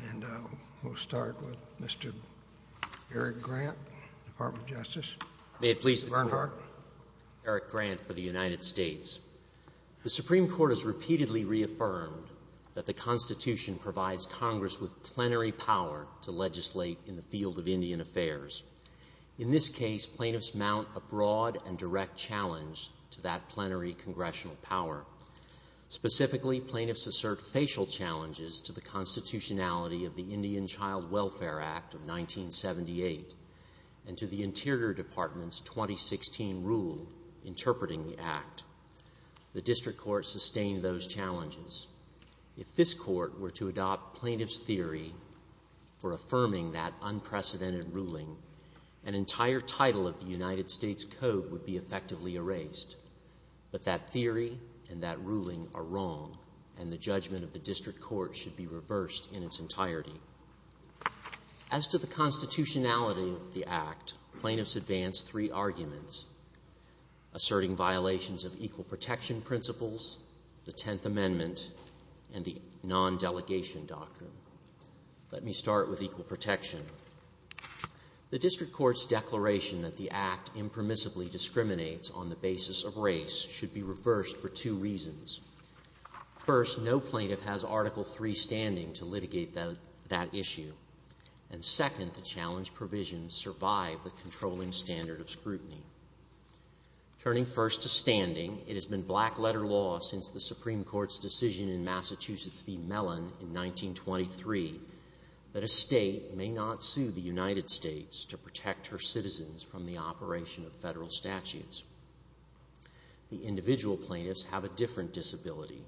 The Supreme Court has repeatedly reaffirmed that the Constitution provides Congress with plenary power to legislate in the field of Indian affairs. In this case, plaintiffs mount a broad and direct challenge to that plenary congressional power. Specifically, plaintiffs assert facial challenges to the constitutionality of the Indian Child Welfare Act of 1978 and to the Interior Department's 2016 rule interpreting the Act. The District Court sustained those challenges. If this Court were to adopt plaintiff's theory for affirming that unprecedented ruling, an entire title of the United States Code would be effectively erased. But that theory and that ruling are wrong, and the judgment of the District Court should be reversed in its entirety. As to the constitutionality of the Act, plaintiffs advance three arguments, asserting violations of equal protection principles, the Tenth Amendment, and the non-delegation doctrine. Let me start with equal protection. The District Court's declaration that the Act impermissibly discriminates on the basis of race should be reversed for two reasons. First, no plaintiff has Article III standing to litigate that issue. And second, the challenge provisions survive the controlling standard of scrutiny. Turning first to standing, it has been black-letter law since the Supreme Court's decision in States to protect her citizens from the operation of federal statutes. The individual plaintiffs have a different disability.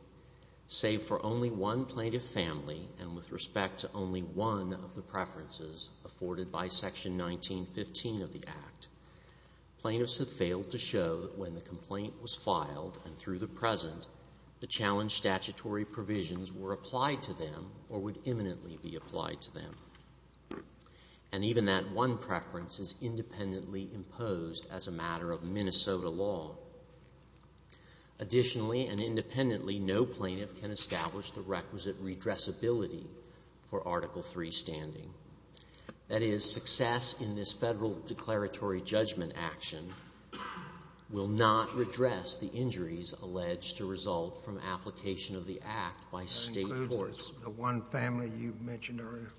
Save for only one plaintiff family and with respect to only one of the preferences afforded by Section 1915 of the Act, plaintiffs have failed to show that when the complaint was filed and through the present, the challenge statutory provisions were applied to them or would imminently be applied to them. And even that one preference is independently imposed as a matter of Minnesota law. Additionally and independently, no plaintiff can establish the requisite redressability for Article III standing. That is, success in this federal declaratory judgment action will not redress the injuries alleged to result from application of the Act by state courts. The one family you mentioned earlier.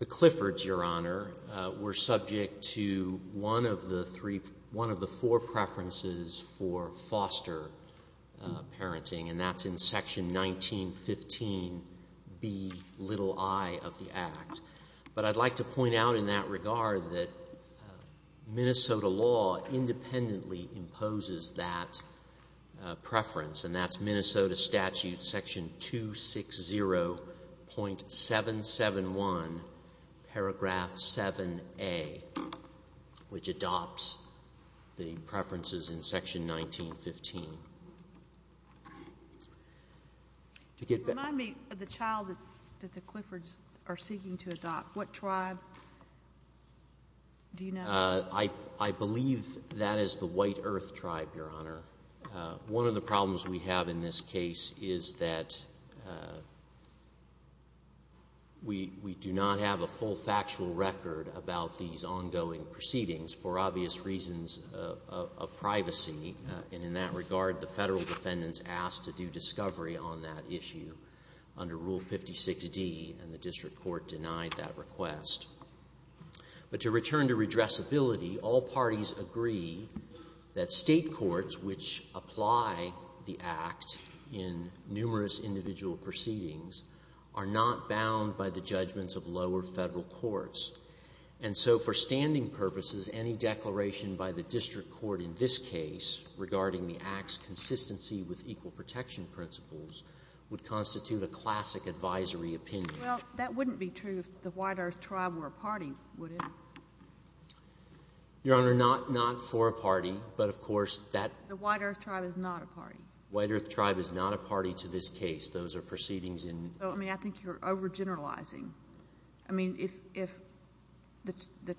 The Cliffords, Your Honor, were subject to one of the four preferences for foster parenting and that's in Section 1915, the little I of the Act. But I'd like to point out in that regard that Minnesota law independently imposes that preference and that's Minnesota Statute Section 260.771, Paragraph 7A, which adopts the preferences in Section 1915. Remind me of the child that the Cliffords are seeking to adopt. What tribe do you know? I believe that is the White Earth Tribe, Your Honor. One of the problems we have in this case is that we do not have a full factual record about these ongoing proceedings for obvious reasons of privacy. And in that regard, the federal defendants asked to do discovery on that issue under Rule 56D and the district court denied that request. But to return to redressability, all parties agree that state courts which apply the Act in numerous individual proceedings are not bound by the judgments of lower federal courts. And so for standing purposes, any declaration by the district court in this case regarding the Act's consistency with equal protection principles would constitute a classic advisory opinion. Well, that wouldn't be true if the White Earth Tribe were a party, would it? Your Honor, not for a party, but of course that... The White Earth Tribe is not a party. White Earth Tribe is not a party to this case. Those are proceedings in... I mean, I think you're overgeneralizing. I mean, if the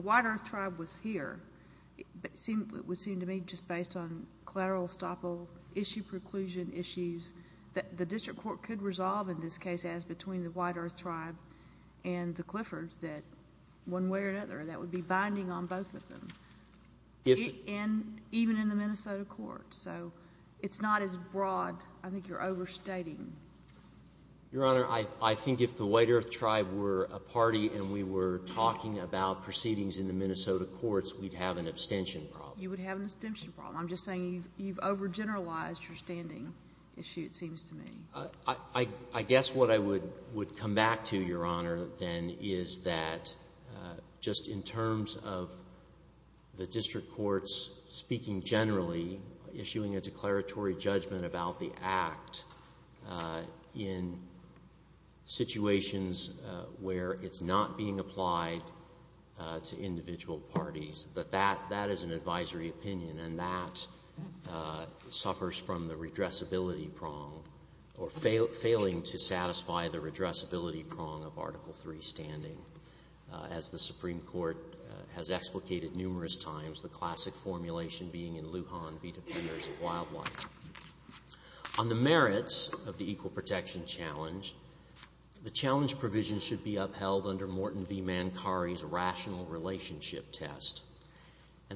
White Earth Tribe was here, it would seem to me just based on collateral issue preclusion issues that the district court could resolve in this case as between the White Earth Tribe and the Cliffords that one way or another that would be binding on both of them, even in the Minnesota courts. So it's not as broad. I think you're overstating. Your Honor, I think if the White Earth Tribe were a party and we were talking about proceedings in the Minnesota courts, we'd have an abstention problem. You would have an abstention problem. I'm just saying you've overgeneralized your standing issue, it seems to me. I guess what I would come back to, Your Honor, then, is that just in terms of the district courts speaking generally, issuing a declaratory judgment about the act in situations where it's not being applied to individual parties. But that is an advisory opinion and that suffers from the redressability prong or failing to satisfy the redressability prong of Article III standing. As the Supreme Court has explicated numerous times, the classic formulation being in Lujan be defeated as a wildlife. On the merits of the Equal Protection Challenge, the challenge provision should be upheld under And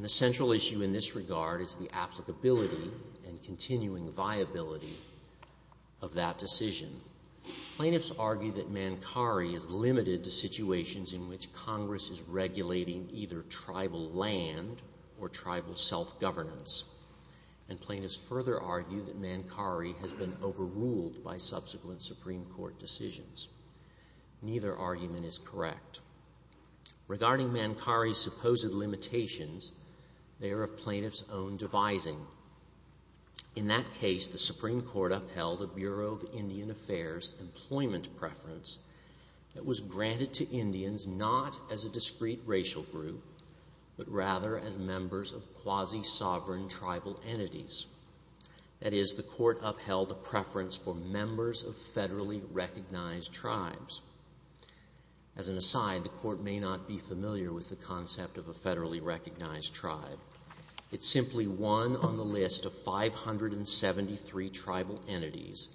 the central issue in this regard is the applicability and continuing viability of that decision. Plaintiffs argue that Mankari is limited to situations in which Congress is regulating either tribal land or tribal self-governance. And plaintiffs further argue that Mankari has been overruled by subsequent Supreme Court decisions. Neither argument is correct. Regarding Mankari's supposed limitations, they are a plaintiff's own devising. In that case, the Supreme Court upheld a Bureau of Indian Affairs employment preference that was granted to Indians not as a discrete racial group, but rather as members of quasi-sovereign tribal entities. That is, the court upheld a preference for members of federally recognized tribes. As an aside, the court may not be familiar with the concept of a federally recognized tribe. It's simply one on the list of 573 tribal entities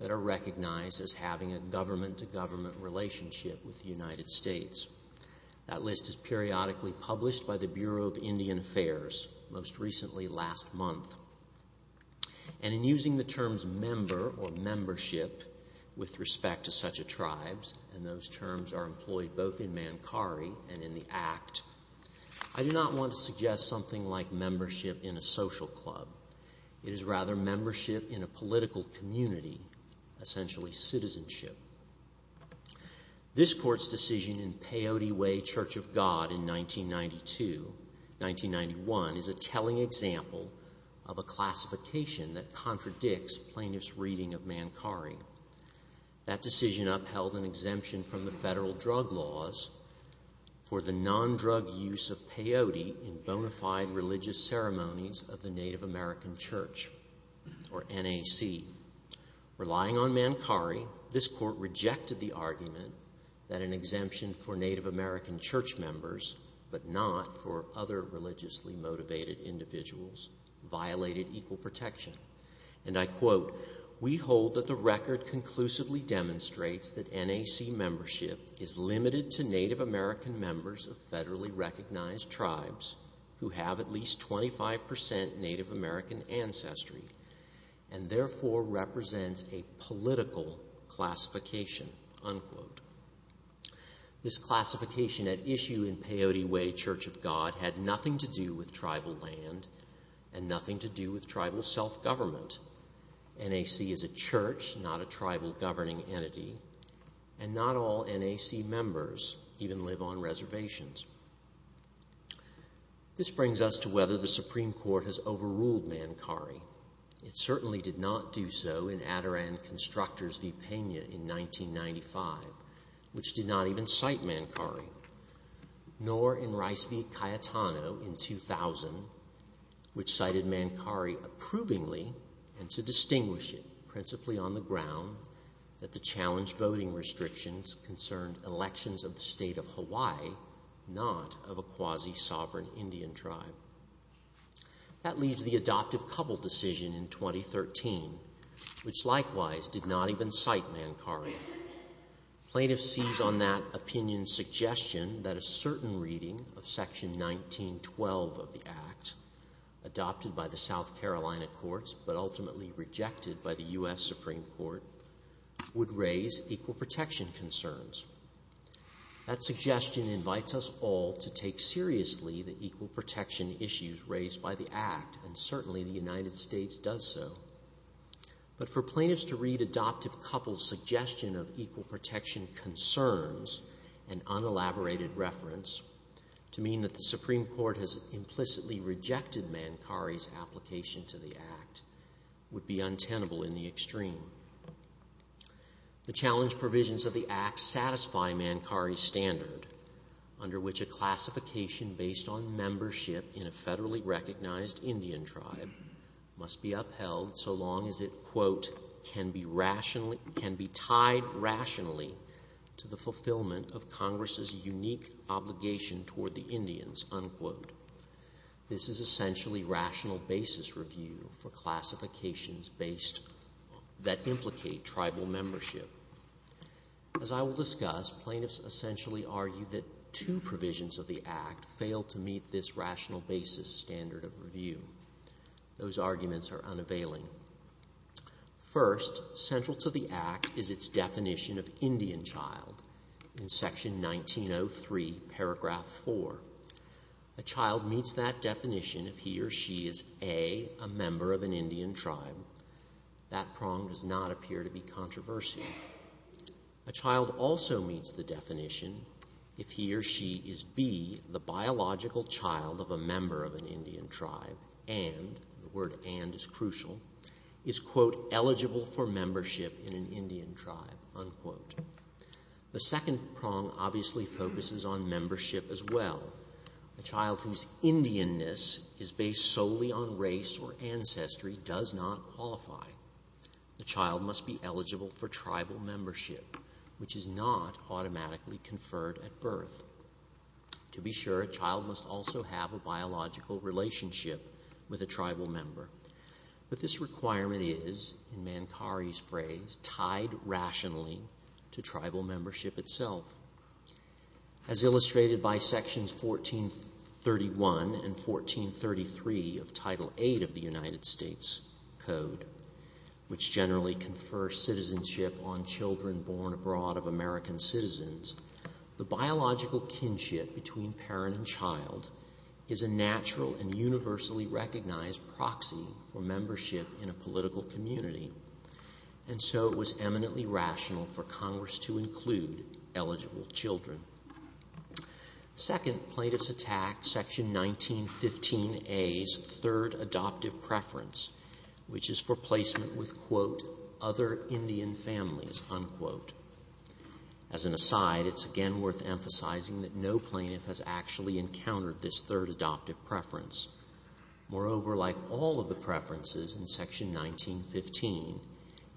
that are recognized as having a government-to-government relationship with the United States. That list is periodically published by the Bureau of Indian Affairs, most recently last month. And in using the terms member or membership with respect to such a tribe, and those terms are employed both in Mankari and in the Act, I do not want to suggest something like membership in a social club. It is rather membership in a political community, essentially citizenship. This court's decision in Peyote Way Church of God in 1992-1991 is a telling example of a classification that contradicts plaintiff's reading of Mankari. That decision upheld an exemption from the federal drug laws for the non-drug use of Peyote in bona fide religious ceremonies of the Native American Church, or NAC. Relying on Mankari, this court rejected the argument that an exemption for Native American church members, but not for other religiously motivated individuals, violated equal protection. And I quote, we hold that the record conclusively demonstrates that NAC membership is limited to Native American members of federally recognized tribes who have at least 25% Native American ancestry, and therefore represents a political classification, unquote. This classification at issue in Peyote Way Church of God had nothing to do with tribal land, and nothing to do with tribal self-government. NAC is a church, not a tribal governing entity, and not all NAC members even live on reservations. This brings us to whether the Supreme Court has overruled Mankari. It certainly did not do so in Adoran Constructors v. Pena in 1995, which did not even cite Mankari. Nor in Rice v. Cayetano in 2000, which cited Mankari approvingly, and to distinguish it, principally on the ground that the challenge voting restrictions concerned elections of the state of Hawaii, not of a quasi-sovereign Indian tribe. That leaves the adoptive couple decision in 2013, which likewise did not even cite Mankari. Plaintiffs seized on that opinion's suggestion that a certain reading of section 1912 of the act, adopted by the South Carolina courts, but ultimately rejected by the U.S. Supreme Court, would raise equal protection concerns. That suggestion invites us all to take seriously the equal protection issues raised by the act, and certainly the United States does so. But for plaintiffs to read adoptive couple's suggestion of equal protection concerns, an unelaborated reference, to mean that the Supreme Court has implicitly rejected Mankari's application to the act, would be untenable in the extreme. The challenge provisions of the act satisfy Mankari's standard, under which a classification based on membership in a federally recognized Indian tribe must be upheld so long as it quote, can be tied rationally to the fulfillment of Congress's unique obligation toward the Indians, unquote. This is essentially rational basis review for classifications based, that implicate tribal membership. As I will discuss, plaintiffs essentially argue that two provisions of the act fail to meet this rational basis standard of review. Those arguments are unavailing. First, central to the act is its definition of Indian child. In section 1903, paragraph 4, a child meets that definition if he or she is A, a member of an Indian tribe. That prong does not appear to be controversial. A child also meets the definition if he or she is B, the biological child of a member of an Indian tribe, and, the word and is crucial, is quote, eligible for membership in an Indian tribe, unquote. The second prong obviously focuses on membership as well. A child whose Indianness is based solely on race or ancestry does not qualify. The child must be eligible for tribal membership, which is not automatically conferred at birth. To be sure, a child must also have a biological relationship with a tribal member. But this requirement is, in Mankari's phrase, tied rationally to tribal membership itself. As illustrated by sections 1431 and 1433 of Title VIII of the United States Code, which generally confers citizenship on children born abroad of American citizens, the biological in a political community, and so it was eminently rational for Congress to include eligible children. Second, plaintiffs attacked section 1915A's third adoptive preference, which is for placement with, quote, other Indian families, unquote. As an aside, it's again worth emphasizing that no plaintiff has actually encountered this third adoptive preference. Moreover, like all of the preferences in section 1915,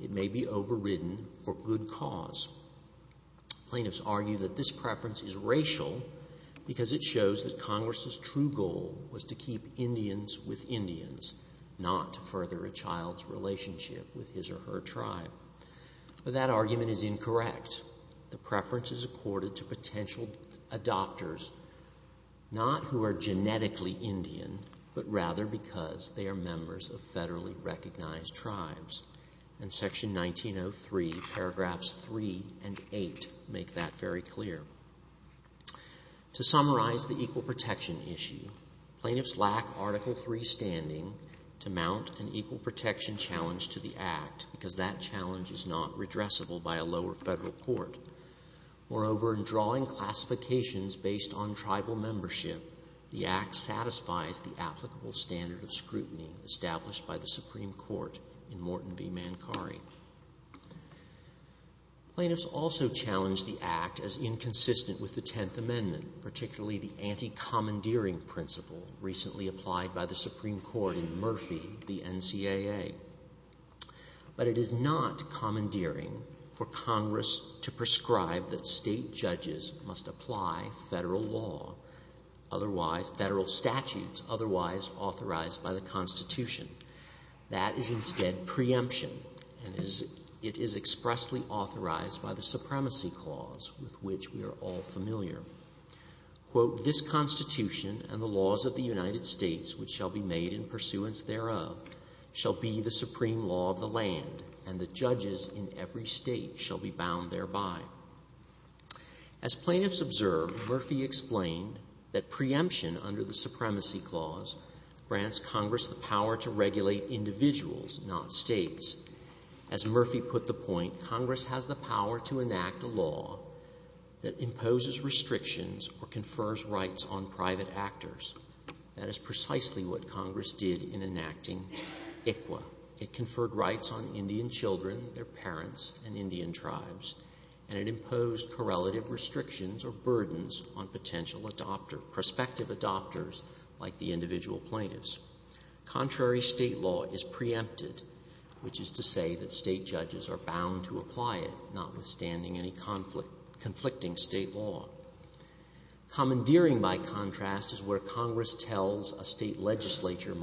it may be overridden for good cause. Plaintiffs argue that this preference is racial because it shows that Congress's true goal was to keep Indians with Indians, not to further a child's relationship with his or her tribe. But that argument is incorrect. The preference is accorded to potential adopters, not who are genetically Indian, but rather because they are members of federally recognized tribes. And section 1903, paragraphs 3 and 8 make that very clear. To summarize the equal protection issue, plaintiffs lack Article III standing to mount an equal court. Moreover, in drawing classifications based on tribal membership, the Act satisfied the applicable standard of scrutiny established by the Supreme Court in Morton v. Mancari. Plaintiffs also challenged the Act as inconsistent with the Tenth Amendment, particularly the anti-commandeering principle recently applied by the Supreme Court in Murphy v. NCAA. But it is not commandeering for Congress to prescribe that state judges must apply federal law, federal statutes otherwise authorized by the Constitution. That is instead preemption, and it is expressly authorized by the Supremacy Clause, with which we are all familiar. Quote, this Constitution and the laws of the United States which shall be made in pursuance thereof shall be the supreme law of the land, and the judges in every state shall be bound thereby. As plaintiffs observed, Murphy explained that preemption under the Supremacy Clause grants Congress the power to regulate individuals, not states. As Murphy put the point, Congress has the power to enact a law that imposes restrictions or confers rights on private actors. That is precisely what Congress did in enacting ICWA. It conferred rights on Indian children, their parents, and Indian tribes, and it imposed correlative restrictions or burdens on potential adopter, prospective adopters, like the individual plaintiffs. Contrary state law is preempted, which is to say that state judges are bound to apply it, notwithstanding any conflicting state law. Commandeering, by contrast, is where Congress tells a state legislature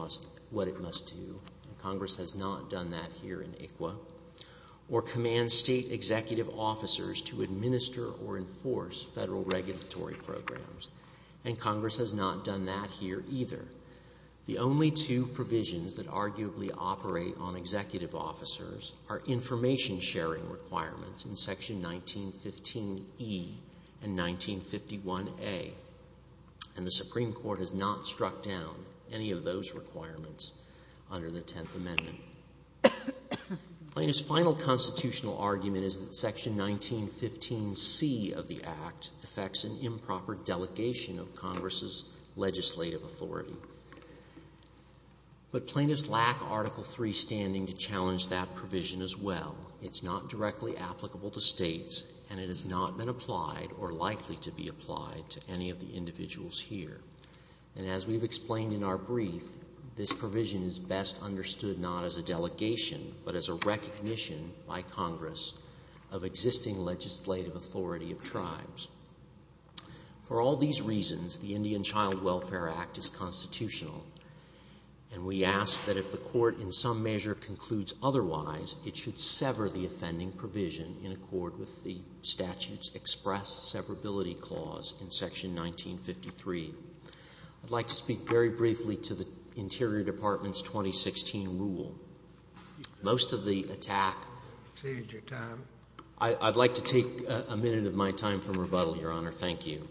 what it must do. Congress has not done that here in ICWA. Or command state executive officers to administer or enforce federal regulatory programs. And Congress has not done that here either. The only two provisions that arguably operate on executive officers are information sharing requirements in Section 1915E and 1951A. And the Supreme Court has not struck down any of those requirements under the Tenth Amendment. Plaintiff's final constitutional argument is that Section 1915C of the Act affects an improper delegation of Congress's legislative authority. But plaintiffs lack Article III standing to challenge that provision as well. It's not directly applicable to states, and it has not been applied or likely to be applied to any of the individuals here. And as we've explained in our brief, this provision is best understood not as a delegation, but as a recognition by Congress of existing legislative authority of tribes. For all these reasons, the Indian Child Welfare Act is constitutional. And we ask that if the Court in some measure concludes otherwise, it should sever the offending provision in accord with the statute's express severability clause in Section 1953. I'd like to speak very briefly to the Interior Department's 2016 rule. Most of the attack... You've saved your time. I'd like to take a minute of my time from rebuttal, Your Honor. Thank you.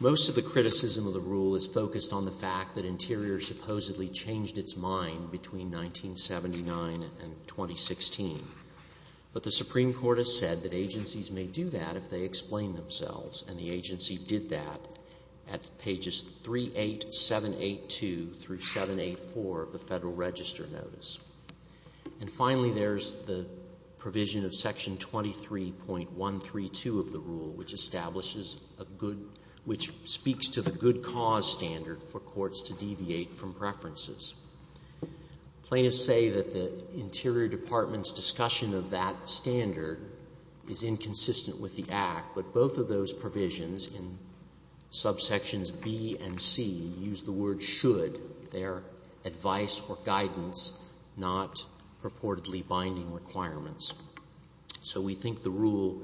Most of the criticism of the rule is focused on the fact that Interior supposedly changed its mind between 1979 and 2016. But the Supreme Court has said that agencies may do that if they explain themselves, and the agency did that at pages 38782 through 784 of the Federal Register Notice. And finally, there's the provision of Section 23.132 of the rule, which establishes a good... which speaks to the good cause standard for courts to deviate from preferences. Players say that the Interior Department's discussion of that standard is inconsistent with the Act, but both of those provisions in subsections B and C use the word should, their advice or guidance, not purportedly binding requirements. So we think the rule...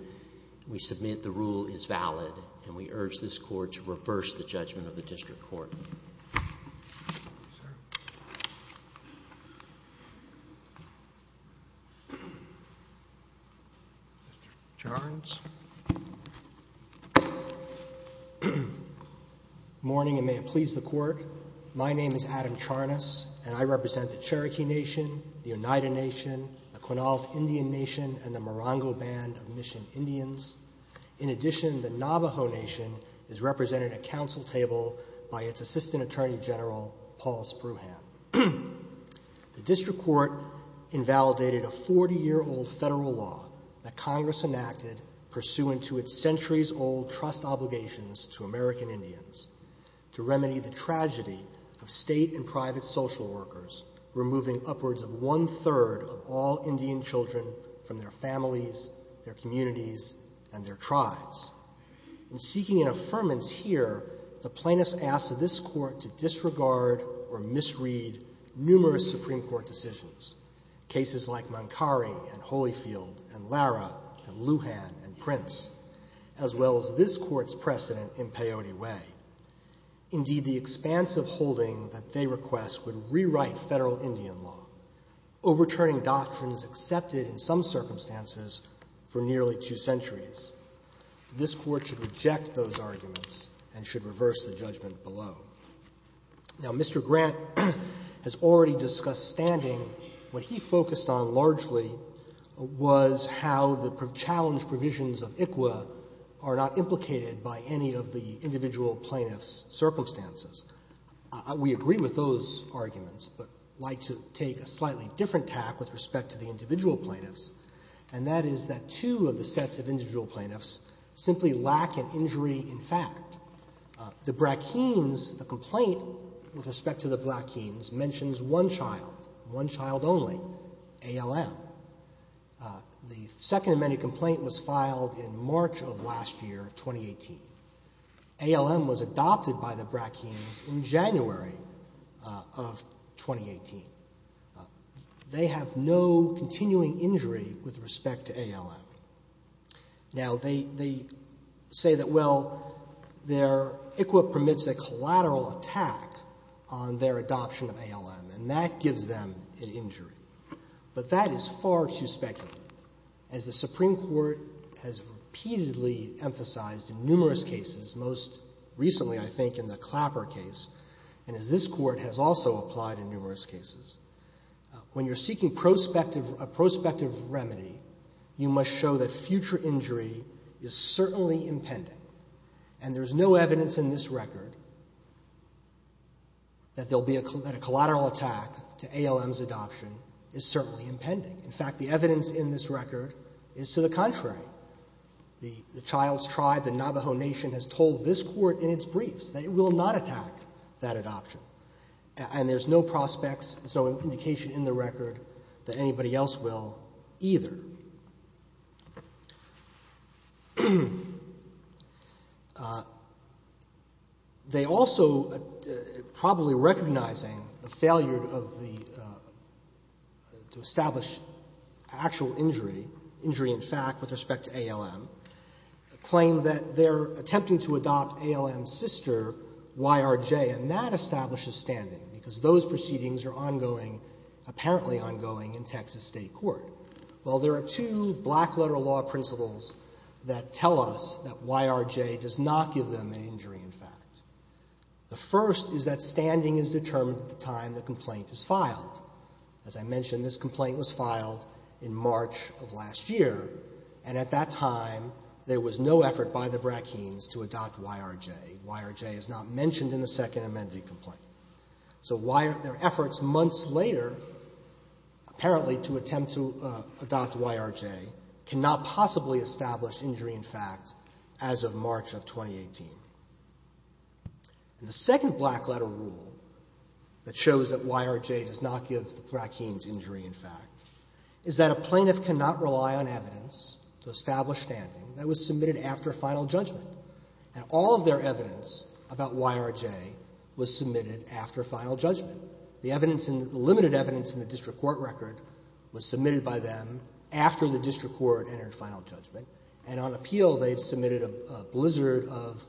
We submit the rule is valid, and we urge this Court to reverse the judgment of the District Court. Your Honor. Morning, and may it please the Court. My name is Adam Charnas, and I represent the Cherokee Nation, the Oneida Nation, the Quinault Indian Nation, and the Morongo Band of Mission Indians. In addition, the Navajo Nation is represented at council table by its Assistant Attorney General, Paul Spruhan. The District Court invalidated a 40-year-old federal law that Congress enacted pursuant to its centuries-old trust obligations to American Indians to remedy the tragedy of state and private social workers, removing upwards of one-third of all Indian children from their families, their communities, and their tribes. In seeking an affirmance here, the plaintiffs asked this Court to disregard or misread numerous Supreme Court decisions, cases like Mankari and Holyfield and Lara and Lujan and Prince, as well as this Court's precedent in Peyote Way. Indeed, the expansive holding that they request would rewrite federal Indian law, overturning doctrines accepted in some circumstances for nearly two centuries. This Court should reject those arguments and should reverse the judgment below. Now, Mr. Grant has already discussed standing. What he focused on largely was how the challenge provisions of ICWA are not implicated by any of the individual plaintiffs' circumstances. We agree with those arguments, but like to take a slightly different tack with respect to the individual plaintiffs, and that is that two of the sets of individual plaintiffs simply lack an injury in fact. The Brackeens, the complaint with respect to the Brackeens mentions one child, one child only, ALM. The Second Amendment complaint was filed in March of last year, 2018. ALM was adopted by the Brackeens in January of 2018. They have no continuing injury with respect to ALM. Now, they say that, well, their ICWA permits a collateral attack on their adoption of ALM, and that gives them an injury. But that is far too speculative, as the Supreme Court has repeatedly emphasized in numerous cases, most recently, I think, in the Clapper case, and as this Court has also applied in numerous cases. When you're seeking a prospective remedy, you must show that future injury is certainly impending, and there's no evidence in this record that a collateral attack to ALM's adoption is certainly impending. In fact, the evidence in this record is to the contrary. The child's tribe, the Navajo Nation, has told this Court in its briefs that it will not attack that adoption, and there's no prospects, no indication in the record that anybody else will either. They also, probably recognizing the failure to establish actual injury, injury in fact with respect to ALM, claim that they're attempting to adopt ALM's sister, YRJ, and that establishes standing, because those proceedings are ongoing, apparently ongoing, in Texas State Court. Well, there are two black-letter law principles that tell us that YRJ does not give them an injury, in fact. The first is that standing is determined at the time the complaint is filed. As I mentioned, this complaint was filed in March of last year, and at that time, there was no effort by the Bratkins to adopt YRJ. YRJ is not mentioned in the Second Amendment complaint. So, their efforts months later, apparently to attempt to adopt YRJ, cannot possibly establish injury, in fact, as of March of 2018. The second black-letter rule that shows that YRJ does not give the Bratkins injury, in fact, is that a plaintiff cannot rely on evidence to establish standing that was submitted after final judgment. And all of their evidence about YRJ was submitted after final judgment. The limited evidence in the district court record was submitted by them after the district court entered final judgment, and on appeal, they submitted a blizzard of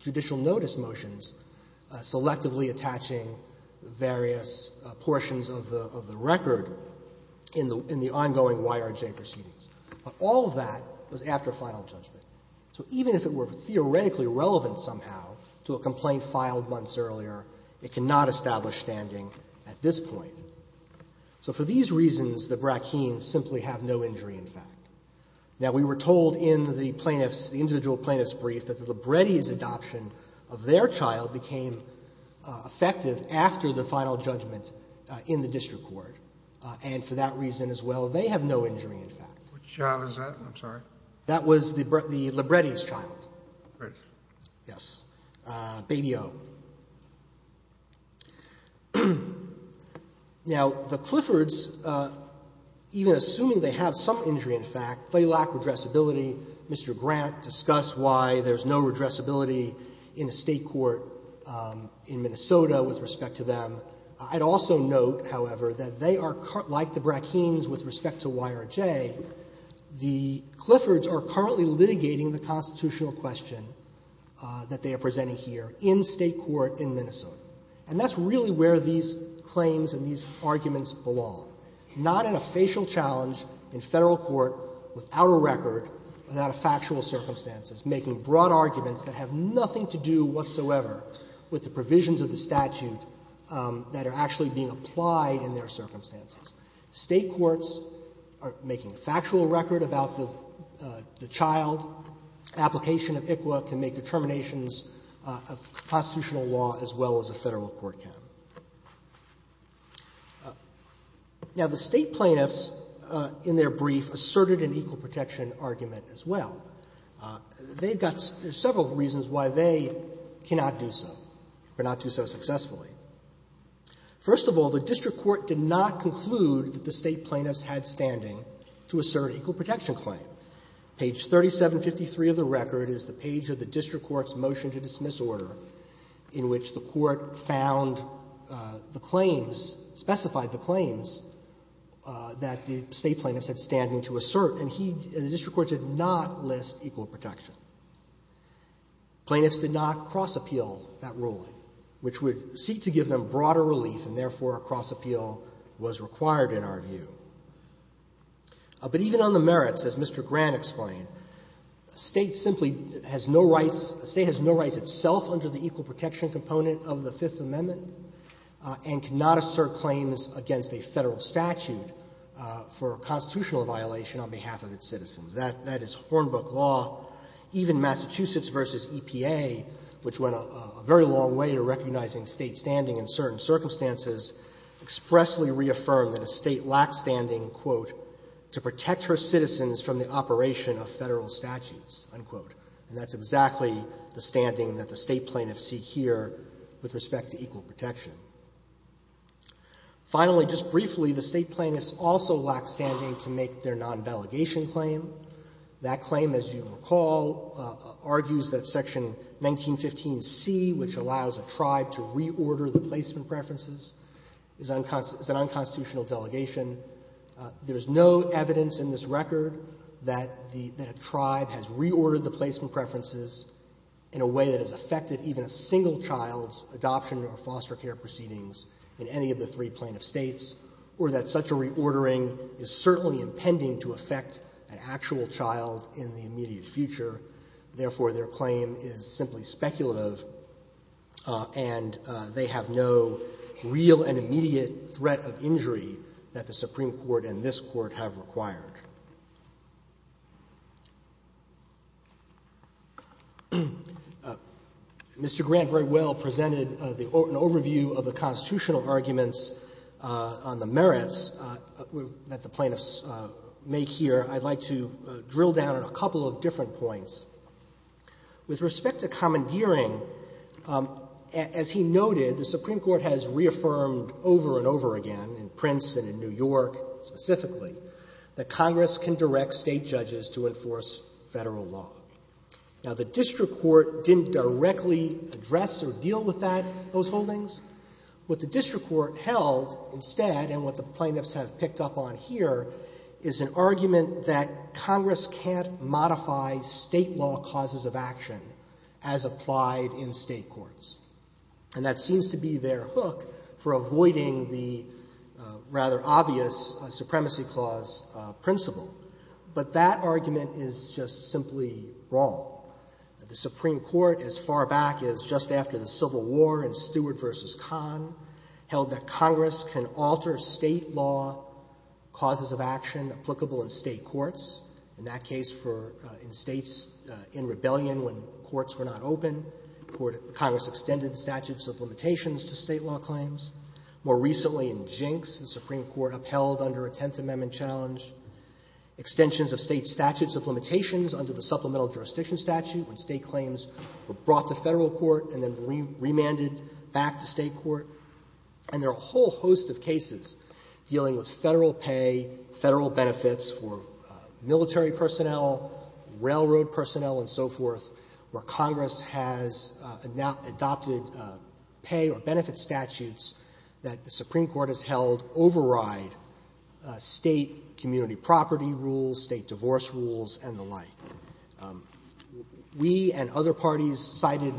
judicial notice motions, selectively attaching various portions of the record in the ongoing YRJ proceedings. All of that was after final judgment. So, even if it were theoretically relevant somehow to a complaint filed months earlier, it cannot establish standing at this point. So, for these reasons, the Bratkins simply have no injury, in fact. Now, we were told in the plaintiff's, the individual plaintiff's brief that the Libretti's adoption of their child became effective after the final judgment in the district court. And for that reason as well, they have no injury, in fact. Which child is that? I'm sorry. That was the Libretti's child. Right. Yes. Baby O. Now, the Cliffords, even assuming they have some injury, in fact, they lack redressability. Mr. Grant discussed why there's no redressability in a state court in Minnesota with respect to them. I'd also note, however, that they are, like the Bratkins with respect to YRJ, the Cliffords are currently litigating the constitutional question that they are presenting here in state court in Minnesota. And that's really where these claims and these arguments belong. Not in a facial challenge in federal court without a record, but out of factual circumstances, making broad arguments that have nothing to do whatsoever with the provisions of the statute that are actually being applied in their circumstances. State courts are making factual record about the child. Application of ICLA can make determinations of constitutional law as well as a federal court can. Now, the state plaintiffs, in their brief, asserted an equal protection argument as well. They've got several reasons why they cannot do so, or not do so successfully. First of all, the district court did not conclude that the state plaintiffs had standing to assert equal protection claim. Page 3753 of the record is the page of the district court's motion to dismiss order in which the court found the claims, specified the claims, that the state plaintiffs had standing to assert. And the district courts did not list equal protection. Plaintiffs did not cross-appeal that ruling, which would seek to give them broader relief and, therefore, a cross-appeal was required in our view. But even on the merits, as Mr. Grant explained, a state simply has no rights, a state has no rights itself under the equal protection component of the Fifth Amendment and cannot assert claims against a federal statute for a constitutional violation on behalf of its citizens. That is Hornbook law. Even Massachusetts v. EPA, which went a very long way to recognizing state standing in certain circumstances, expressly reaffirmed that the state lacked standing, quote, to protect her citizens from the operation of federal statutes, unquote. And that's exactly the standing that the state plaintiffs seek here with respect to equal protection. Finally, just briefly, the state plaintiffs also lacked standing to make their non-delegation claim. That claim, as you recall, argues that Section 1915C, which allows a tribe to reorder the placement preferences, is an unconstitutional delegation. There is no evidence in this record that the tribe has reordered the placement preferences in a way that has affected even a single child's adoption of a foster care proceedings in any of the three plaintiff states or that such a reordering is certainly impending to affect an actual child in the immediate future. Therefore, their claim is simply speculative, and they have no real and immediate threat of injury that the Supreme Court and this Court have required. Mr. Grant very well presented an overview of the constitutional arguments on the merits that the plaintiffs make here. I'd like to drill down on a couple of different points. With respect to commandeering, as he noted, the Supreme Court has reaffirmed over and over again, in Princeton and New York specifically, that Congress can direct state judges to enforce federal law. Now, the district court didn't directly address or deal with that, those holdings. What the district court held instead, and what the plaintiffs have picked up on here, is an argument that Congress can't modify state law causes of action as applied in state courts. And that seems to be their hook for avoiding the rather obvious Supremacy Clause principle. But that argument is just simply wrong. The Supreme Court, as far back as just after the Civil War in Stewart v. Kahn, held that applicable in state courts. In that case, in states in rebellion when courts were not open, Congress extended statutes of limitations to state law claims. More recently, in Jinx, the Supreme Court upheld under a Tenth Amendment challenge, extensions of state statutes of limitations under the Supplemental Jurisdiction Statute when state claims were brought to federal court and then remanded back to state court. And there are a whole host of cases dealing with federal pay, federal benefits for military personnel, railroad personnel, and so forth, where Congress has adopted pay or benefit statutes that the Supreme Court has held override state community property rules, state divorce rules, and the like. We and other parties cited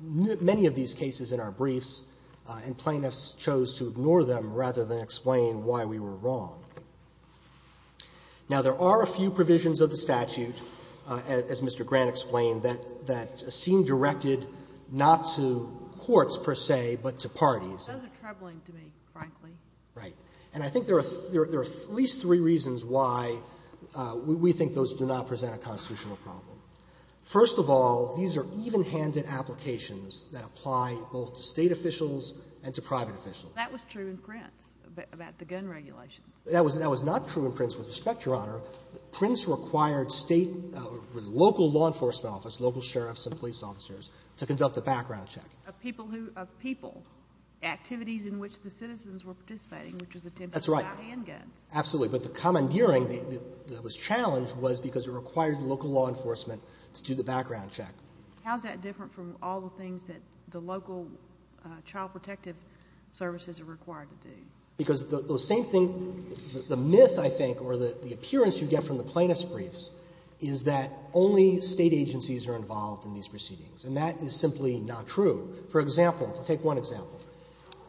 many of these cases in our briefs and plaintiffs chose to ignore them rather than explain why we were wrong. Now, there are a few provisions of the statute, as Mr. Grant explained, that seem directed not to courts, per se, but to parties. Those are troubling to me, frankly. Right. And I think there are at least three reasons why we think those do not present a constitutional problem. First of all, these are even-handed applications that apply both to state officials and to private officials. That was true in Prince about the gun regulation. That was not true in Prince, with respect, Your Honor. Prince required state, local law enforcement office, local sheriffs and police officers to conduct a background check. Of people who, of people. Activities in which the citizens were participating. That's right. Which is attempted by the end gun. Absolutely. But the commandeering that was challenged was because it required the local law enforcement to do the background check. How is that different from all the things that the local child protective services are required to do? Because the same thing, the myth, I think, or the appearance you get from the plaintiffs' briefs is that only state agencies are involved in these proceedings. And that is simply not true. For example, to take one example,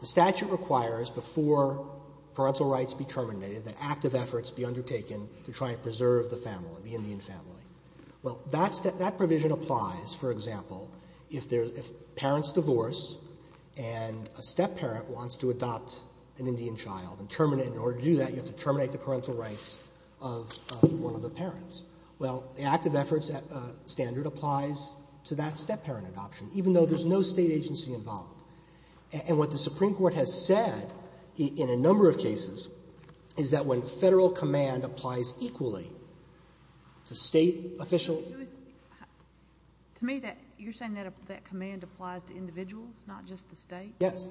the statute requires before parental rights be terminated that active efforts be undertaken to try and preserve the family, the Indian family. Well, that provision applies, for example, if parents divorce and a step-parent wants to adopt an Indian child and in order to do that you have to terminate the parental rights of one of the parents. Well, the active efforts standard applies to that step-parent adoption, even though there's no state agency involved. And what the Supreme Court has said in a number of cases is that when federal command applies equally to state officials... To me, you're saying that command applies to individuals, not just the state? Yes.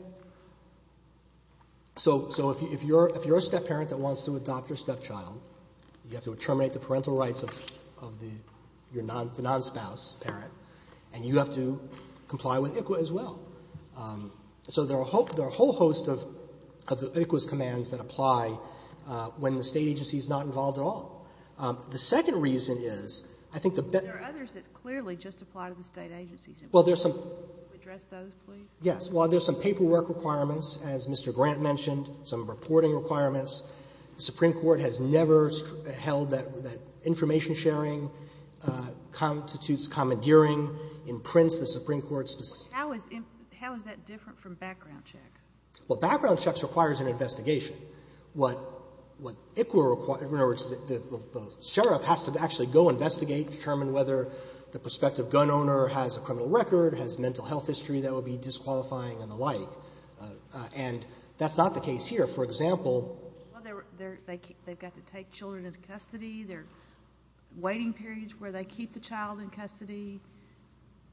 So, if you're a step-parent that wants to adopt your step-child, you have to terminate the parental rights of your non-spouse parent, and you have to comply with ICWA as well. So, there are a whole host of ICWA's commands that apply when the state agency is not involved at all. The second reason is, I think that... There are others that clearly just apply to the state agencies. Well, there's some... Can you address those, please? Yes. Well, there's some paperwork requirements, as Mr. Grant mentioned, some reporting requirements. The Supreme Court has never held that information sharing constitutes commandeering, imprints the Supreme Court's... How is that different from background checks? Well, background checks requires an investigation. What ICWA requires... The sheriff has to actually go investigate, determine whether the prospective gun owner has a criminal record, has mental health history that would be disqualifying, and the like. And that's not the case here. For example... Well, they've got to take children into custody. There are waiting periods where they keep the child in custody.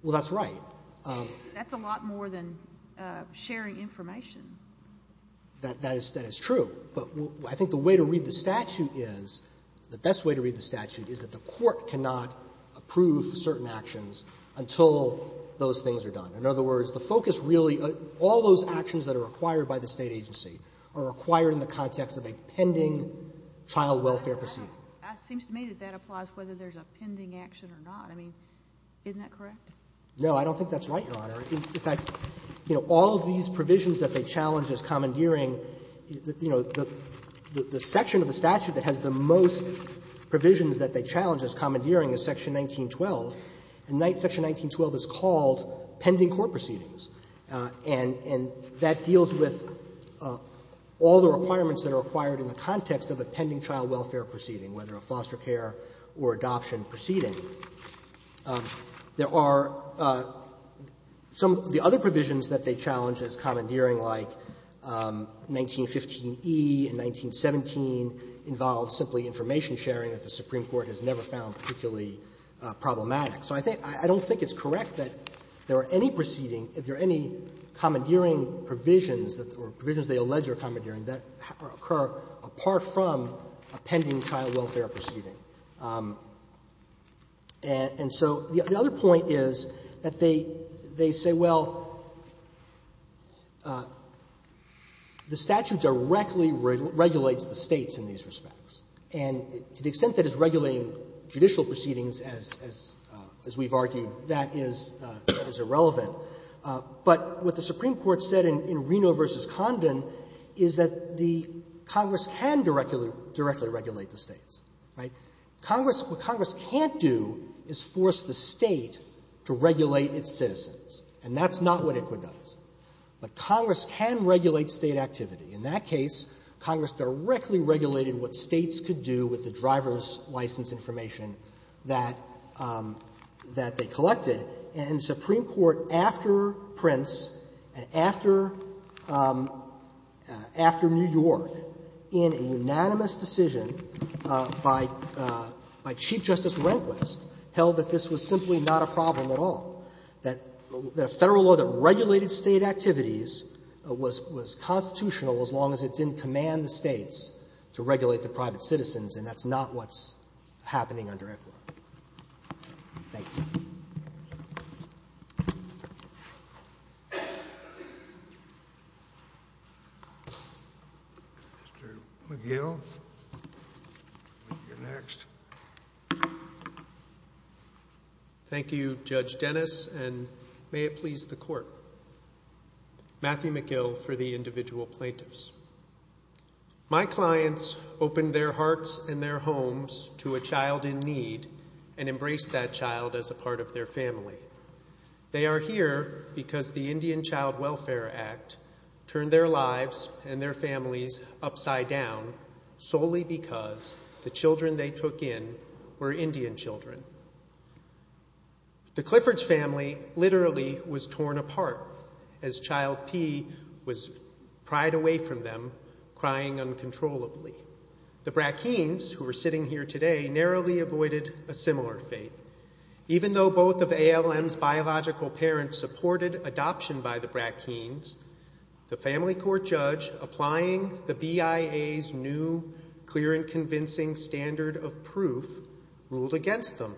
Well, that's right. That's a lot more than sharing information. That is true. But I think the way to read the statute is... The best way to read the statute is that the court cannot approve certain actions until those things are done. In other words, the focus really... All those actions that are required by the State agency are required in the context of a pending child welfare proceeding. It seems to me that that applies whether there's a pending action or not. I mean, isn't that correct? No, I don't think that's right, Your Honor. In fact, you know, all these provisions that they challenge as commandeering, you know, the section of the statute that has the most provisions that they challenge as commandeering is section 1912, and section 1912 is called pending court proceedings, and that deals with all the requirements that are required in the context of a pending child welfare proceeding, whether a foster care or adoption proceeding. There are some... The other provisions that they challenge as commandeering, like 1915e and 1917, involve simply information sharing that the Supreme Court has never found particularly problematic. So I don't think it's correct that there are any proceeding, if there are any commandeering provisions, or provisions they allege are commandeering, that occur apart from a pending child welfare proceeding. And so the other point is that they say, well, the statute directly regulates the States in these respects, and to the extent that it's regulating judicial proceedings, as we've argued, that is irrelevant. But what the Supreme Court said in Reno v. Condon is that the Congress can directly regulate the States, right? What Congress can't do is force the State to regulate its citizens, and that's not what it does. But Congress can regulate State activity. In that case, Congress directly regulated what States could do with the driver's license information that they collected. And the Supreme Court, after Prince, after New York, in a unanimous decision by Chief Justice Rehnquist, held that this was simply not a problem at all. That the Federal law that regulated State activities was constitutional as long as it didn't command the States to regulate the private citizens, and that's not what's happening under EFRA. Thank you. Mr. McGill, you're next. Thank you, Judge Dennis, and may it please the Court. Matthew McGill for the individual plaintiffs. My clients opened their hearts and their homes to a child in need and embraced that child as a part of their family. They are here because the Indian Child Welfare Act turned their lives and their families upside down solely because the children they took in were Indian children. The Clifford's family literally was torn apart as Child P was pried away from them, crying uncontrollably. The Brackenes, who are sitting here today, narrowly avoided a similar fate. Even though both of ALM's biological parents supported adoption by the Brackenes, the Family Court judge applying the BIA's new clear and convincing standard of proof ruled against them.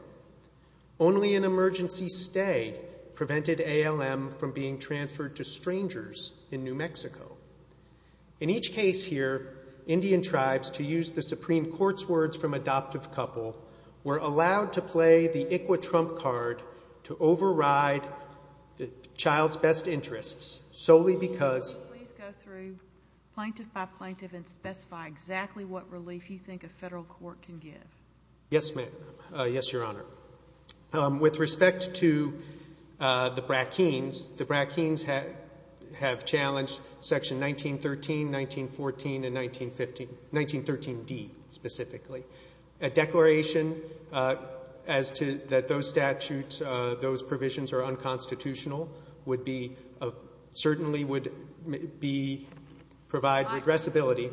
Only an emergency stay prevented ALM from being transferred to strangers in New Mexico. In each case here, Indian tribes, to use the Supreme Court's words from adoptive couple, were allowed to play the Iquitrump card to override the child's best interests solely because... Please go through plaintiff by plaintiff and specify exactly what relief you think a federal court can give. Yes, ma'am. Yes, Your Honor. With respect to the Brackenes, the Brackenes have challenged Section 1913, 1914, and 1913 D specifically. A declaration as to... That those statutes, those provisions are unconstitutional would be... Certainly would be... Provide regressibility.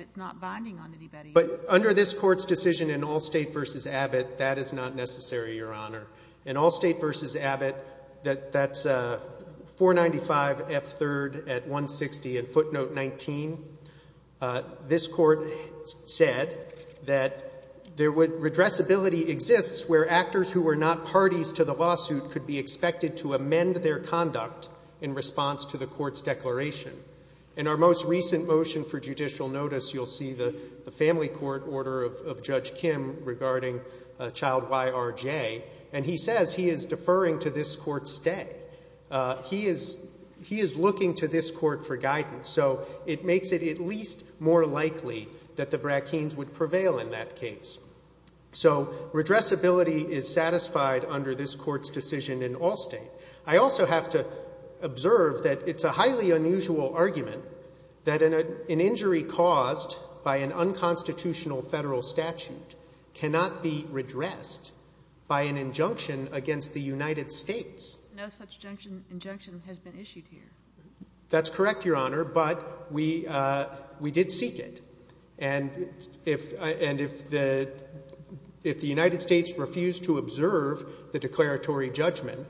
It's not binding on anybody. But under this court's decision in Allstate v. Abbott, that is not necessary, Your Honor. In Allstate v. Abbott, that's 495 F. 3rd at 160 and footnote 19. This court said that there would... Regressibility exists where actors who are not parties to the lawsuit could be expected to amend their conduct in response to the court's declaration. In our most recent motion for judicial notice, you'll see the family court order of Judge Kim regarding Child Y.R.J. And he says he is deferring to this court's day. He is looking to this court for guidance. So it makes it at least more likely that the Brackenes would prevail in that case. So regressibility is satisfied under this court's decision in Allstate. I also have to observe that it's a highly unusual argument that an injury caused by an unconstitutional federal statute cannot be regressed by an injunction against the United States. No such injunction has been issued here. That's correct, Your Honor, but we did seek it. And if the United States refused to observe the declaratory judgment,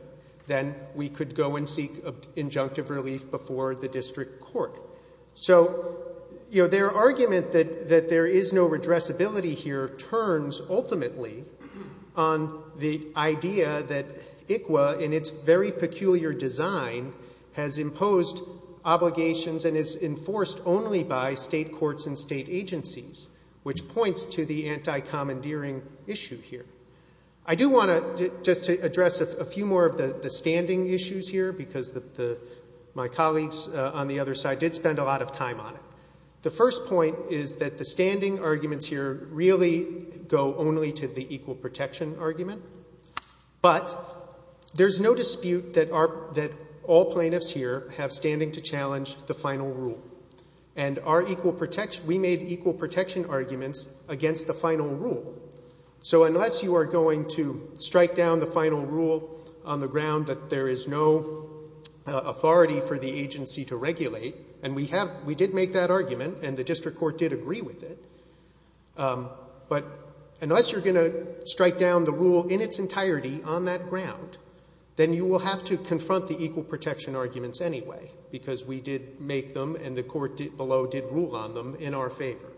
then we could go and seek injunctive relief before the district court. So, you know, their argument that there is no regressibility here turns ultimately on the idea that ICWA, in its very peculiar design, has imposed obligations and is enforced only by state courts and state agencies, which points to the anti-commandeering issue here. I do want to just address a few more of the standing issues here because my colleagues on the other side did spend a lot of time on it. The first point is that the standing arguments here really go only to the equal protection argument, but there's no dispute that all plaintiffs here have standing to challenge the final rule, and we made equal protection arguments against the final rule. So unless you are going to strike down the final rule on the ground that there is no authority for the agency to regulate, and we did make that argument and the district is going to strike down the rule in its entirety on that ground, then you will have to confront the equal protection arguments anyway because we did make them and the court below did rule on them in our favor.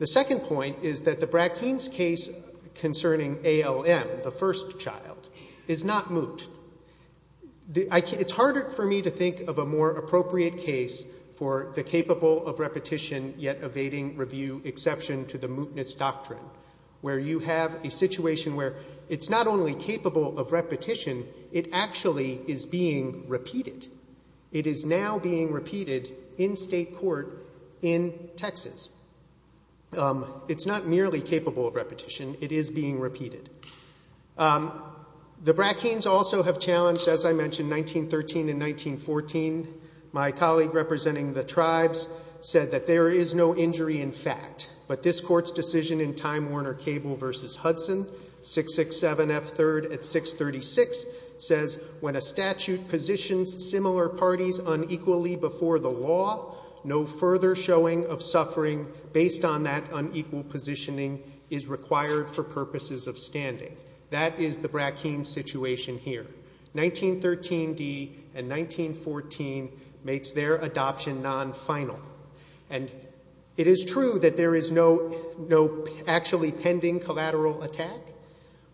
The second point is that the Bratkins case concerning ALM, the first child, is not moot. It's harder for me to think of a more appropriate case for the capable of repetition yet evading review exception to the mootness doctrine, where you have a situation where it's not only capable of repetition, it actually is being repeated. It is now being repeated in state court in Texas. It's not merely capable of repetition. It is being repeated. The Bratkins also have challenged, as I mentioned, 1913 and 1914. My colleague representing the tribes said that there is no injury in fact, but this court's decision in Time Warner Cable v. Hudson, 667F3rd at 636, says when a statute positions similar parties unequally before the law, no further showing of suffering based on that unequal positioning is required for purposes of standing. That is the Bratkins situation here. 1913D and 1914 makes their adoption non-final. It is true that there is no actually pending collateral attack,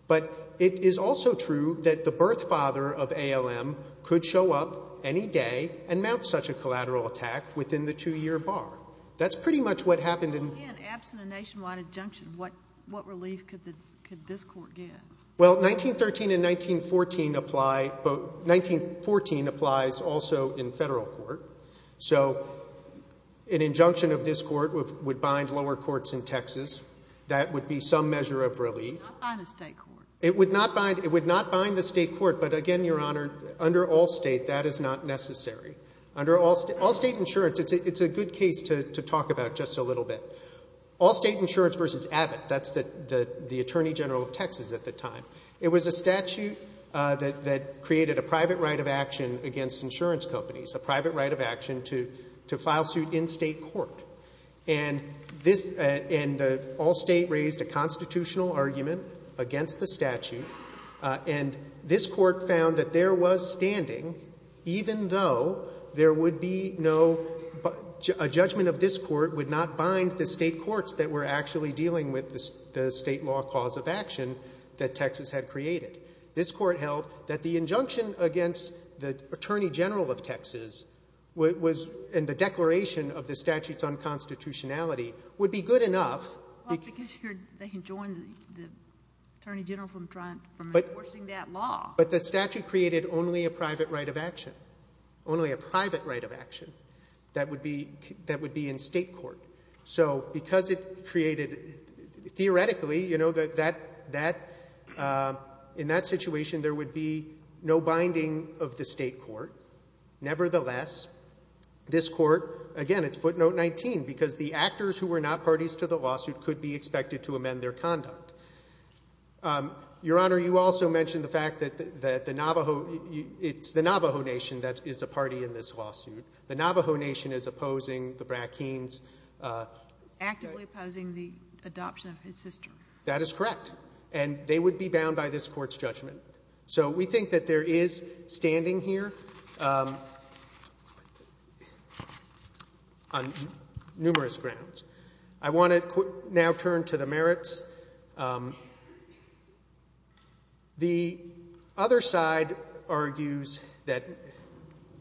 but it is also true that the birth father of ALM could show up any day and mount such a collateral attack within the two-year bar. That's pretty much what happened. If you get an abstinence nationwide injunction, what relief could this court get? Well, 1913 and 1914 applies also in federal court. An injunction of this court would bind lower courts in Texas. That would be some measure of relief. It would not bind the state court, but again, Your Honor, under all state, that is not necessary. Under all state insurance, it's a good case to talk about just a little bit. All state insurance versus Abbott. That's the Attorney General of Texas at the time. It was a statute that created a private right of action against insurance companies, a private right of action to file suit in state court. And all state raised a constitutional argument against the statute, and this court found that there was standing, even though there would be no, a judgment of this court would not bind the state courts that were actually dealing with the state law cause of action that Texas had created. This court held that the injunction against the Attorney General of Texas and the declaration of the statute's unconstitutionality would be good enough. Well, because they can join the Attorney General from enforcing that law. But the statute created only a private right of action, only a private right of action that would be in state court. So, because it created, theoretically, you know, that, in that situation, there would be no binding of the state court. Nevertheless, this court, again, it's footnote 19, because the actors who were not parties to the lawsuit could be expected to amend their conduct. Your Honor, you also mentioned the fact that the Navajo, it's the Navajo Nation that is a party in this lawsuit. The Navajo Nation is opposing the Brackeen's… Actively opposing the adoption of his sister. That is correct. And they would be bound by this court's judgment. So, we think that there is standing here on numerous grounds. I want to now turn to the merits. The other side argues that,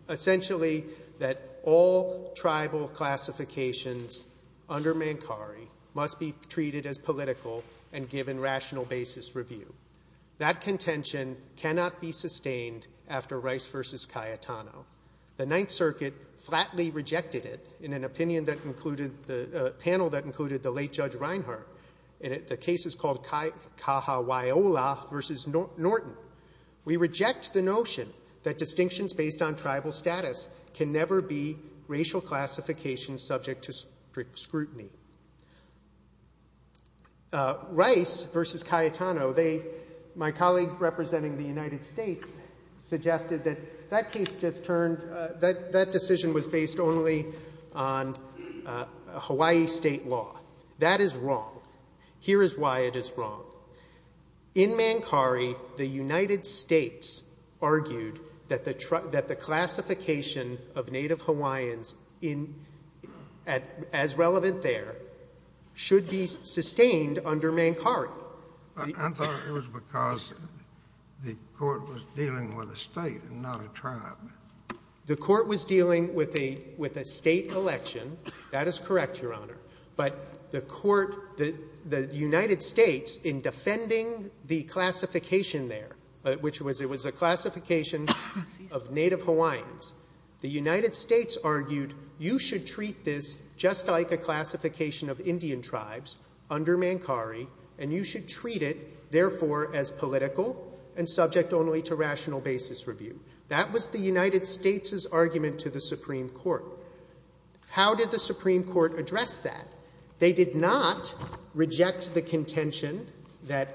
essentially, that all tribal classifications under Mancari must be treated as political and given rational basis review. That contention cannot be sustained after Rice v. Cayetano. The Ninth Circuit flatly rejected it in an opinion that included, a panel that included the late Judge Reinhart. And the case is called Kahawaiola v. Norton. We reject the notion that distinctions based on tribal status can never be racial classifications subject to scrutiny. Rice v. Cayetano, they, my colleagues representing the United States, suggested that that case was based only on Hawaii state law. That is wrong. Here is why it is wrong. In Mancari, the United States argued that the classification of Native Hawaiians as relevant there should be sustained under Mancari. I thought it was because the court was dealing with a state and not a tribe. The court was dealing with a state election. That is correct, Your Honor. But the United States, in defending the classification there, which was a classification of Native Hawaiians, the United States argued you should treat this just like the classification of Native Hawaiians. You should treat it, therefore, as political and subject only to rational basis review. That was the United States' argument to the Supreme Court. How did the Supreme Court address that? They did not reject the contention that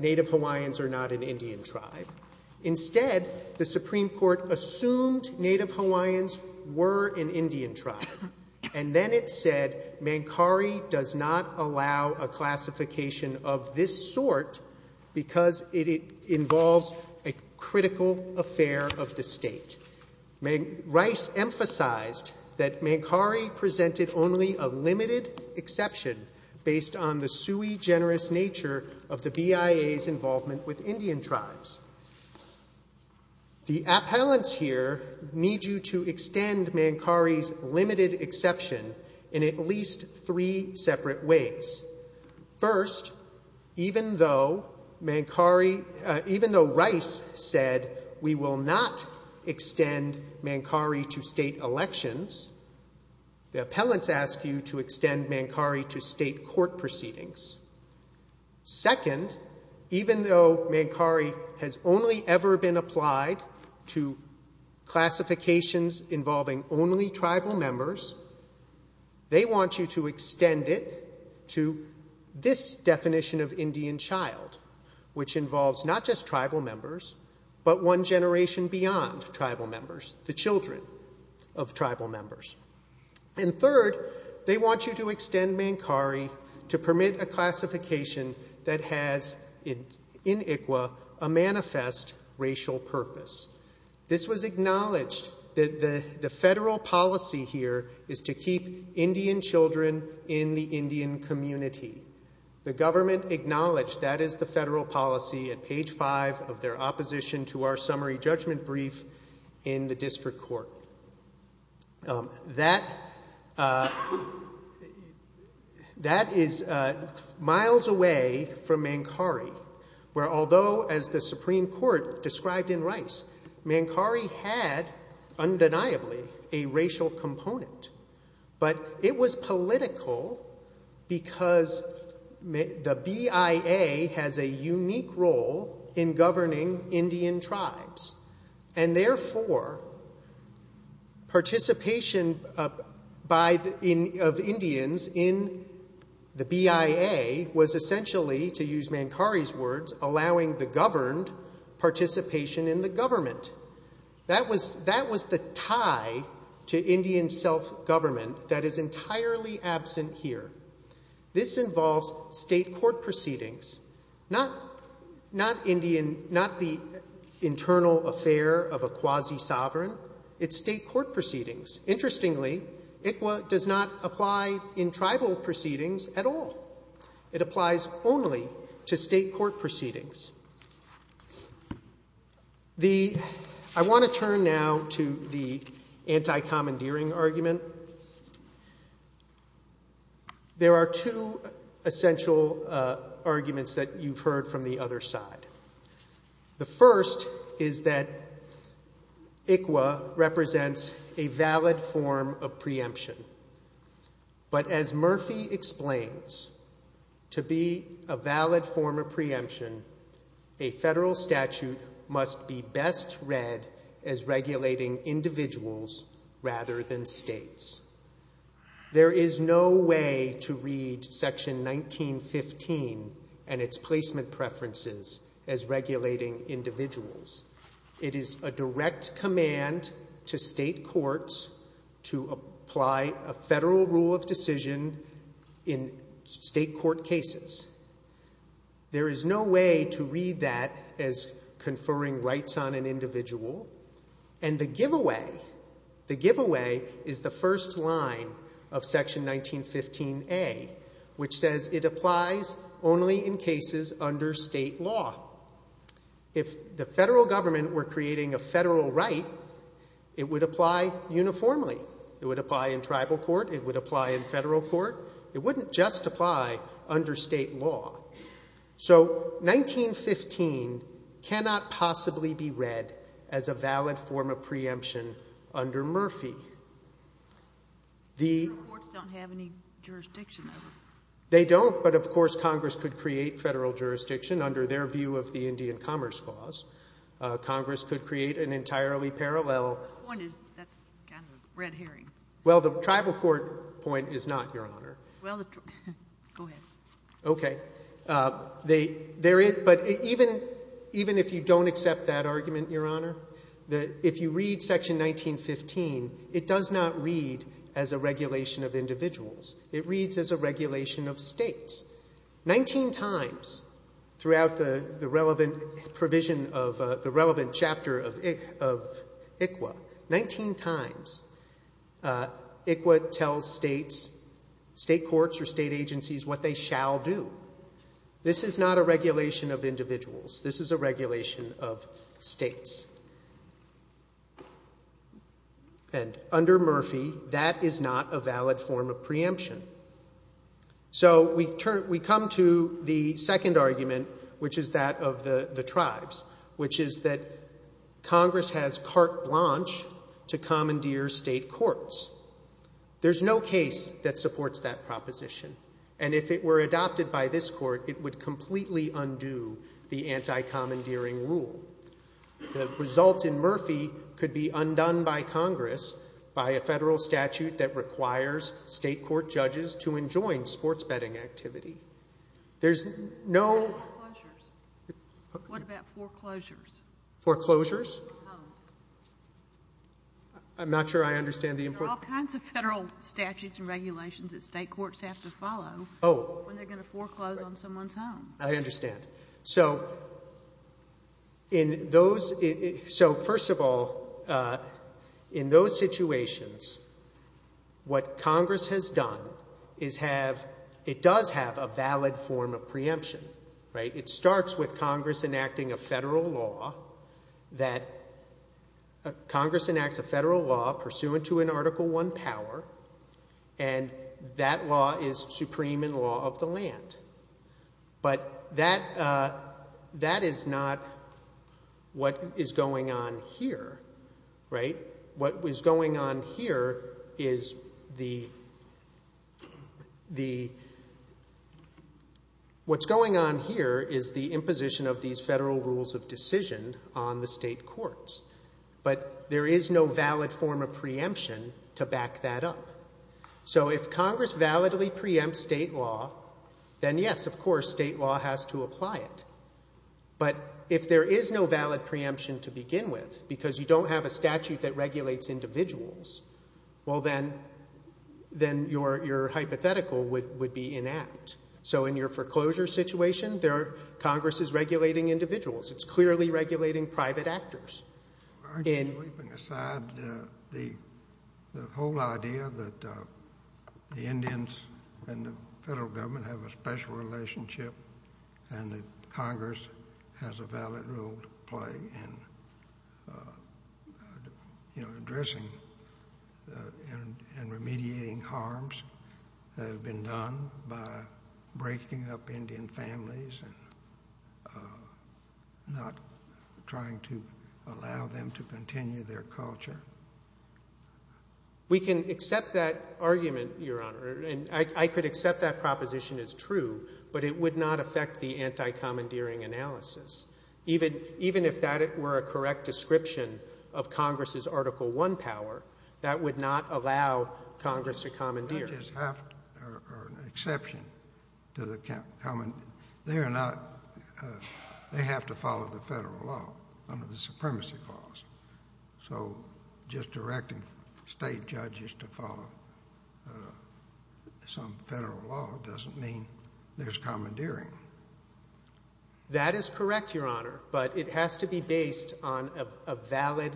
Native Hawaiians are not an Indian tribe. Instead, the Supreme Court assumed Native Hawaiians were an Indian tribe. And then it said Mancari does not allow a classification of this sort because it involves a critical affair of the state. Rice emphasized that Mancari presented only a limited exception based on the sui generis nature of the BIA's involvement with Indian tribes. The appellants here need you to extend Mancari's limited exception in at least three separate ways. First, even though Rice said we will not extend Mancari to state elections, the appellants ask you to extend Mancari to state court proceedings. Second, even though Mancari has only ever been applied to classifications involving only tribal members, they want you to extend it to this definition of Indian child, which involves not just tribal members, but one generation beyond tribal members, the children of tribal members. And third, they want you to extend Mancari to permit a classification that has in ICWA a manifest racial purpose. This was acknowledged that the federal policy here is to keep Indian children in the Indian community. The government acknowledged that is the federal policy at page five of their opposition to That is miles away from Mancari, where although as the Supreme Court described in Rice, Mancari had undeniably a racial component. But it was political because the BIA has a unique role in governing Indian tribes. And therefore, participation of Indians in the BIA was essentially, to use Mancari's words, allowing the governed participation in the government. That was the tie to Indian self-government that is entirely absent here. This involves state court proceedings, not the internal affair of a quasi-sovereign. It's state court proceedings. Interestingly, ICWA does not apply in tribal proceedings at all. It applies only to state court proceedings. I want to turn now to the anti-commandeering argument. There are two essential arguments that you've heard from the other side. The first is that ICWA represents a valid form of preemption. But as Murphy explains, to be a valid form of preemption, a federal statute must be best read as regulating individuals rather than states. There is no way to read section 1915 and its placement preferences as regulating individuals. It is a direct command to state courts to apply a federal rule of decision in state court cases. There is no way to read that as conferring rights on an individual. And the giveaway, the giveaway is the first line of section 1915A, which says it applies only in cases under state law. If the federal government were creating a federal right, it would apply uniformly. It would apply in tribal court. It would apply in federal court. It wouldn't justify under state law. So 1915 cannot possibly be read as a valid form of preemption under Murphy. The courts don't have any jurisdiction. They don't, but of course, Congress could create federal jurisdiction under their view of the Indian Commerce Clause. Congress could create an entirely parallel. That's kind of a red herring. Well, the tribal court point is not, Your Honor. Well, go ahead. OK. But even if you don't accept that argument, Your Honor, if you read section 1915, it does not read as a regulation of individuals. It reads as a regulation of states. 19 times throughout the relevant provision of the relevant chapter of ICWA, 19 times ICWA tells states, state courts or state agencies what they shall do. This is not a regulation of individuals. This is a regulation of states. And under Murphy, that is not a valid form of preemption. So we come to the second argument, which is that of the tribes, which is that Congress has carte blanche to commandeer state courts. There's no case that supports that proposition. And if it were adopted by this court, it would completely undo the anti-commandeering rule. The result in Murphy could be undone by Congress by a federal statute that requires state court judges to enjoin sports betting activity. There's no... What about foreclosures? Foreclosures? I'm not sure I understand the importance... There are all kinds of federal statutes and regulations that state courts have to follow when they're going to foreclose on someone's home. I understand. So in those... So first of all, in those situations, what Congress has done is have... It does have a valid form of preemption, right? It starts with Congress enacting a federal law that... Congress enacts a federal law pursuant to an Article I power, and that law is supreme in law of the land. But that is not what is going on here, right? What is going on here is the... What's going on here is the imposition of these federal rules of decision on the state courts. But there is no valid form of preemption to back that up. So if Congress validly preempts state law, then yes, of course, state law has to apply it. But if there is no valid preemption to begin with, because you don't have a statute that regulates individuals, well, then your hypothetical would be inact. So in your foreclosure situation, Congress is regulating individuals. It's clearly regulating private actors. The whole idea that the Indians and the federal government have a special relationship and that Congress has a valid role to play in addressing and remediating harms that have been done by breaking up Indian families and not trying to allow them to continue their culture. We can accept that argument, Your Honor, and I could accept that proposition as true, but it would not affect the anti-commandeering analysis. Even if that were a correct description of Congress's Article I power, that would not allow Congress to commandeer. They have to follow the federal law under the Supremacy Clause. So just directing state judges to follow some federal law doesn't mean there's commandeering. That is correct, Your Honor, but it has to be based on a valid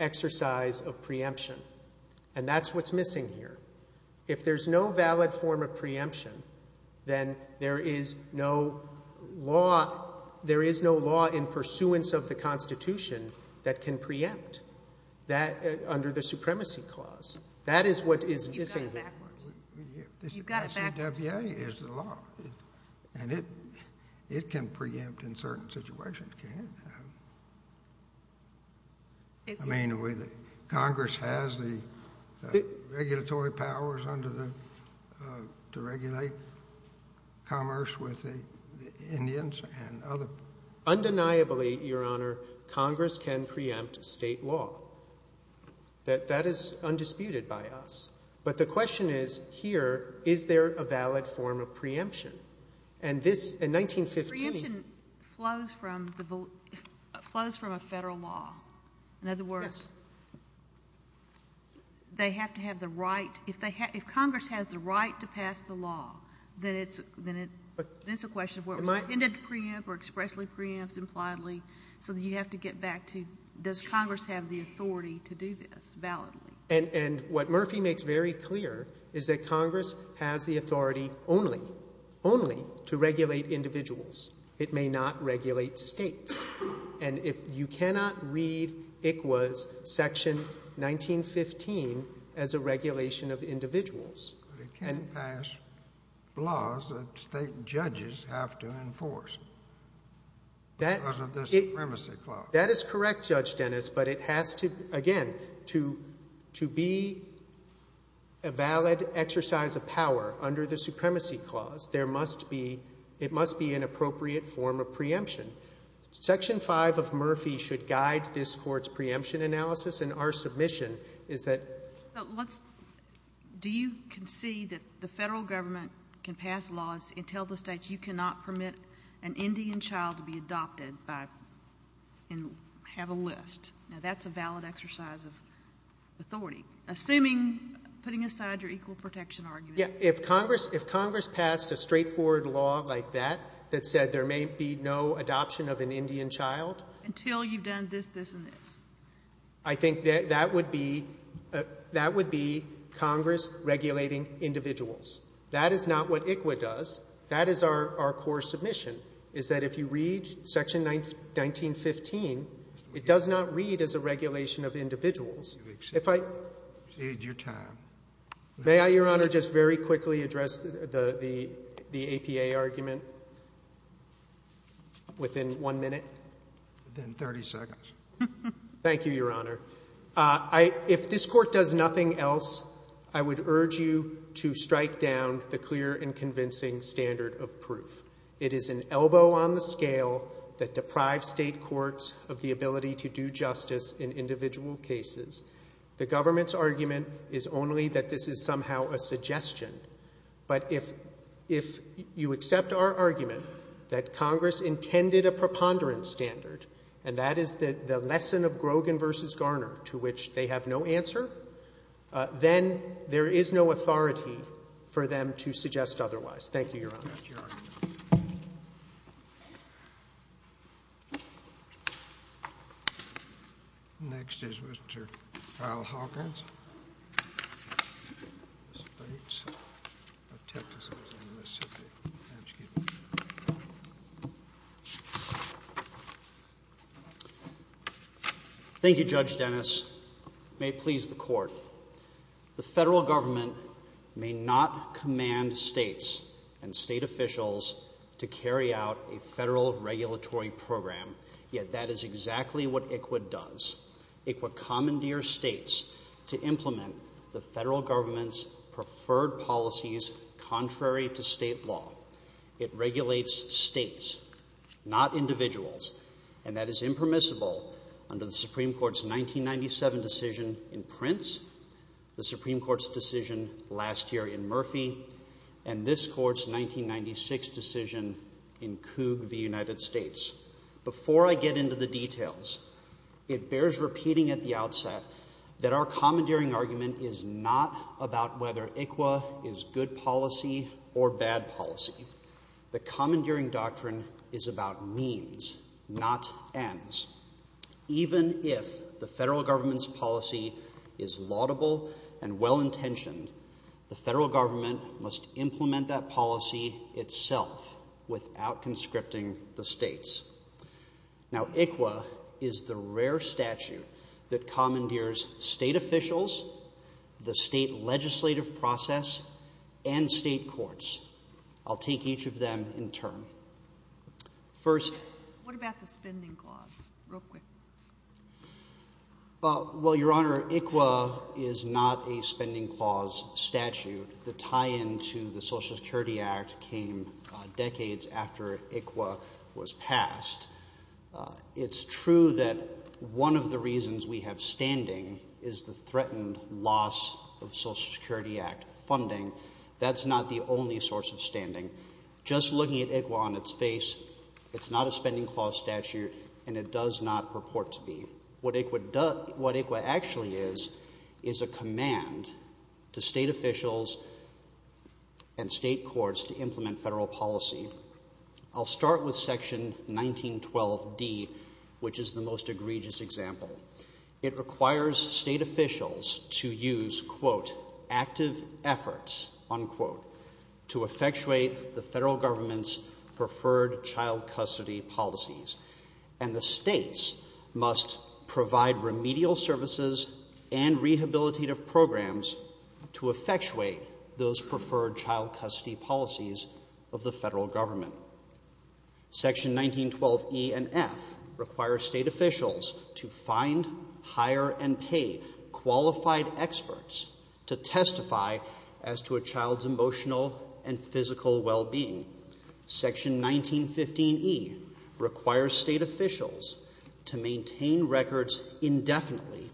exercise of preemption. And that's what's missing here. If there's no valid form of preemption, then there is no law in pursuance of the Constitution that can preempt that under the Supremacy Clause. That is what is missing here. You got that? Yeah, it's the law. And it can preempt in certain situations, can't it? I mean, Congress has the regulatory powers to regulate commerce with the Indians and other... Undeniably, Your Honor, Congress can preempt state law. That is undisputed by us. But the question is, here, is there a valid form of preemption? And this, in 1915... Preemption flows from a federal law. In other words, they have to have the right... If Congress has the right to pass the law, then it's a question of whether it can be preempted or expressly preempted impliedly. So you have to get back to, does Congress have the authority to do this validly? And what Murphy makes very clear is that Congress has the authority only to regulate individuals. It may not regulate states. And you cannot read ICWA's Section 1915 as a regulation of individuals. It can't pass laws that state judges have to enforce because of the Supremacy Clause. That is correct, Judge Dennis, but it has to... Again, to be a valid exercise of power under the Supremacy Clause, it must be an appropriate form of preemption. Section 5 of Murphy should guide this Court's preemption analysis. And our submission is that... Do you concede that the federal government can pass laws and tell the states you cannot permit an Indian child to be adopted and have a list? Now that's a valid exercise of authority. Assuming, putting aside your equal protection argument... Yeah, if Congress passed a straightforward law like that, that said there may be no adoption of an Indian child... Until you've done this, this, and this. I think that would be Congress regulating individuals. That is not what ICWA does. That is our core submission, is that if you read Section 1915, it does not read as a regulation of individuals. If I... You've exceeded your time. May I, Your Honor, just very quickly address the APA argument within one minute? Within 30 seconds. Thank you, Your Honor. If this Court does nothing else, I would urge you to strike down the clear and convincing standard of proof. It is an elbow on the scale that deprives state courts of the ability to do justice in individual cases. The government's argument is only that this is somehow a suggestion. But if you accept our argument that Congress intended a preponderance standard, and that is the lesson of Grogan v. Garner, to which they have no answer, then there is no authority for them to suggest otherwise. Thank you, Your Honor. Thank you, Your Honor. Next is Mr. Kyle Hawkins. Thank you, Judge Dennis. May it please the Court, the federal government may not command states and state officials to carry out a federal regulatory program, yet that is exactly what ICWA does. ICWA commandeers states to implement the federal government's preferred policies contrary to state law. It regulates states, not individuals, and that is impermissible under the Supreme Court's 1997 decision in Prince, the Supreme Court's decision last year in Murphy, and this Court's 1996 decision in Coog v. United States. Before I get into the details, it bears repeating at the outset that our commandeering argument is not about whether ICWA is good policy or bad policy. The commandeering doctrine is about means, not ends. Even if the federal government's policy is laudable and well-intentioned, the federal government must implement that policy itself without conscripting the states. Now, ICWA is the rare statute that commandeers state officials, the state legislative process, and state courts. I'll take each of them in turn. First... What about the spending clause? Real quick. Well, Your Honor, ICWA is not a spending clause statute. The tie-in to the Social Security Act came decades after ICWA was passed. It's true that one of the reasons we have standing is the threatened loss of Social Security Act funding. That's not the only source of standing. Just looking at ICWA on its face, it's not a spending clause statute, and it does not purport to be. What ICWA actually is is a command to state officials and state courts to implement federal policy. I'll start with Section 1912d, which is the most egregious example. It requires state officials to use, quote, active efforts, unquote, to effectuate the federal government's preferred child custody policies, and the states must provide remedial services and rehabilitative programs to effectuate those preferred child custody policies of the federal government. Section 1912e and f require state officials to find, hire, and pay qualified experts to testify as to a child's emotional and physical well-being. Section 1915e requires state officials to maintain records indefinitely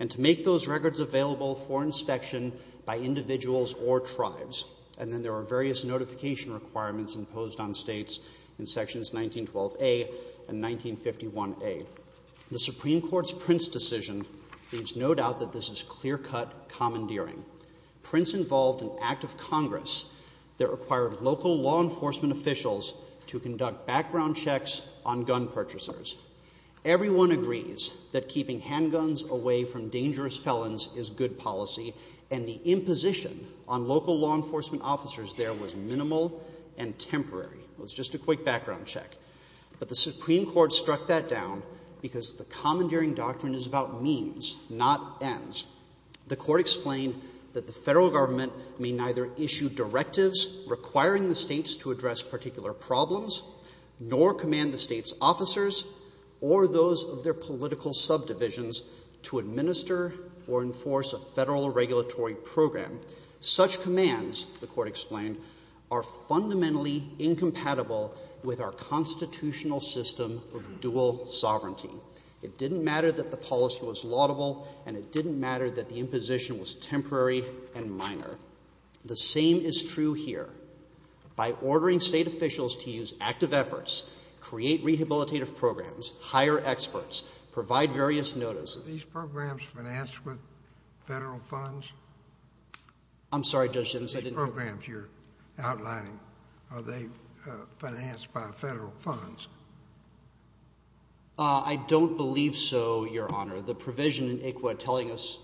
and to make those records available for inspection by individuals or tribes, and then there are various notification requirements imposed on states in Sections 1912a and 1951a. The Supreme Court's Prince decision leaves no doubt that this is clear-cut commandeering. Prince involved an act of Congress that required local law enforcement officials to conduct background checks on gun purchasers. Everyone agrees that keeping handguns away from dangerous felons is good policy, and the imposition on local law enforcement officers there was minimal and temporary. It was just a quick background check. But the Supreme Court struck that down because the commandeering doctrine is about means, not ends. The Court explained that the federal government may neither issue directives requiring the states to address particular problems nor command the states' officers or those of their political subdivisions to administer or enforce a federal regulatory program. Such commands, the Court explained, are fundamentally incompatible with our constitutional system of dual sovereignty. It didn't matter that the policy was laudable, and it didn't matter that the imposition was temporary and minor. The same is true here. By ordering state officials to use active efforts, create rehabilitative programs, hire experts, provide various notices... I'm sorry, Judge Jennings, I didn't... I don't believe so, Your Honor. The provision in ICWA telling us...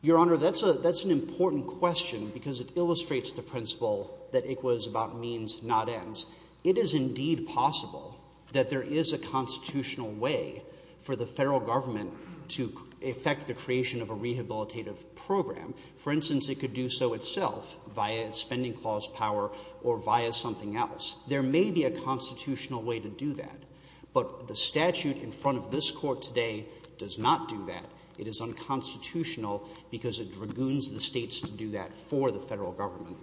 Your Honor, that's an important question because it illustrates the principle that ICWA is about means, not ends. It is indeed possible that there is a constitutional way for the federal government to effect the creation of a rehabilitative program. For instance, it could do so itself via spending clause power or via something else. There may be a constitutional way to do that, but the statute in front of this Court today does not do that. It is unconstitutional because it dragoons the states to do that for the federal government.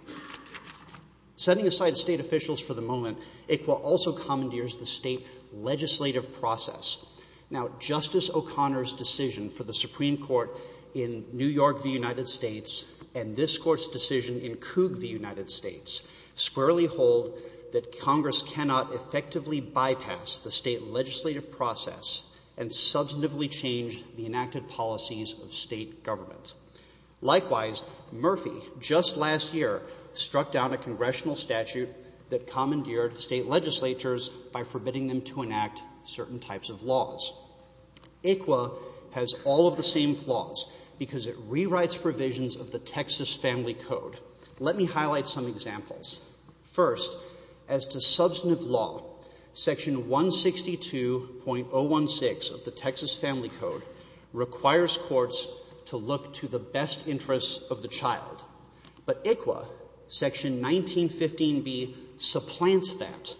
Setting aside state officials for the moment, ICWA also commandeers the state legislative process. Now, Justice O'Connor's decision for the Supreme Court in New York v. United States and this Court's decision in Coog v. United States squarely hold that Congress cannot effectively bypass the state legislative process and substantively change the enacted policies of state government. Likewise, Murphy, just last year, struck down a congressional statute that commandeered state legislatures by forbidding them to enact certain types of laws. ICWA has all of the same flaws because it rewrites provisions of the Texas Family Code. Let me highlight some examples. First, as to substantive law, Section 162.016 of the Texas Family Code requires courts to look to the best interests of the child. But ICWA, Section 1915b, supplants that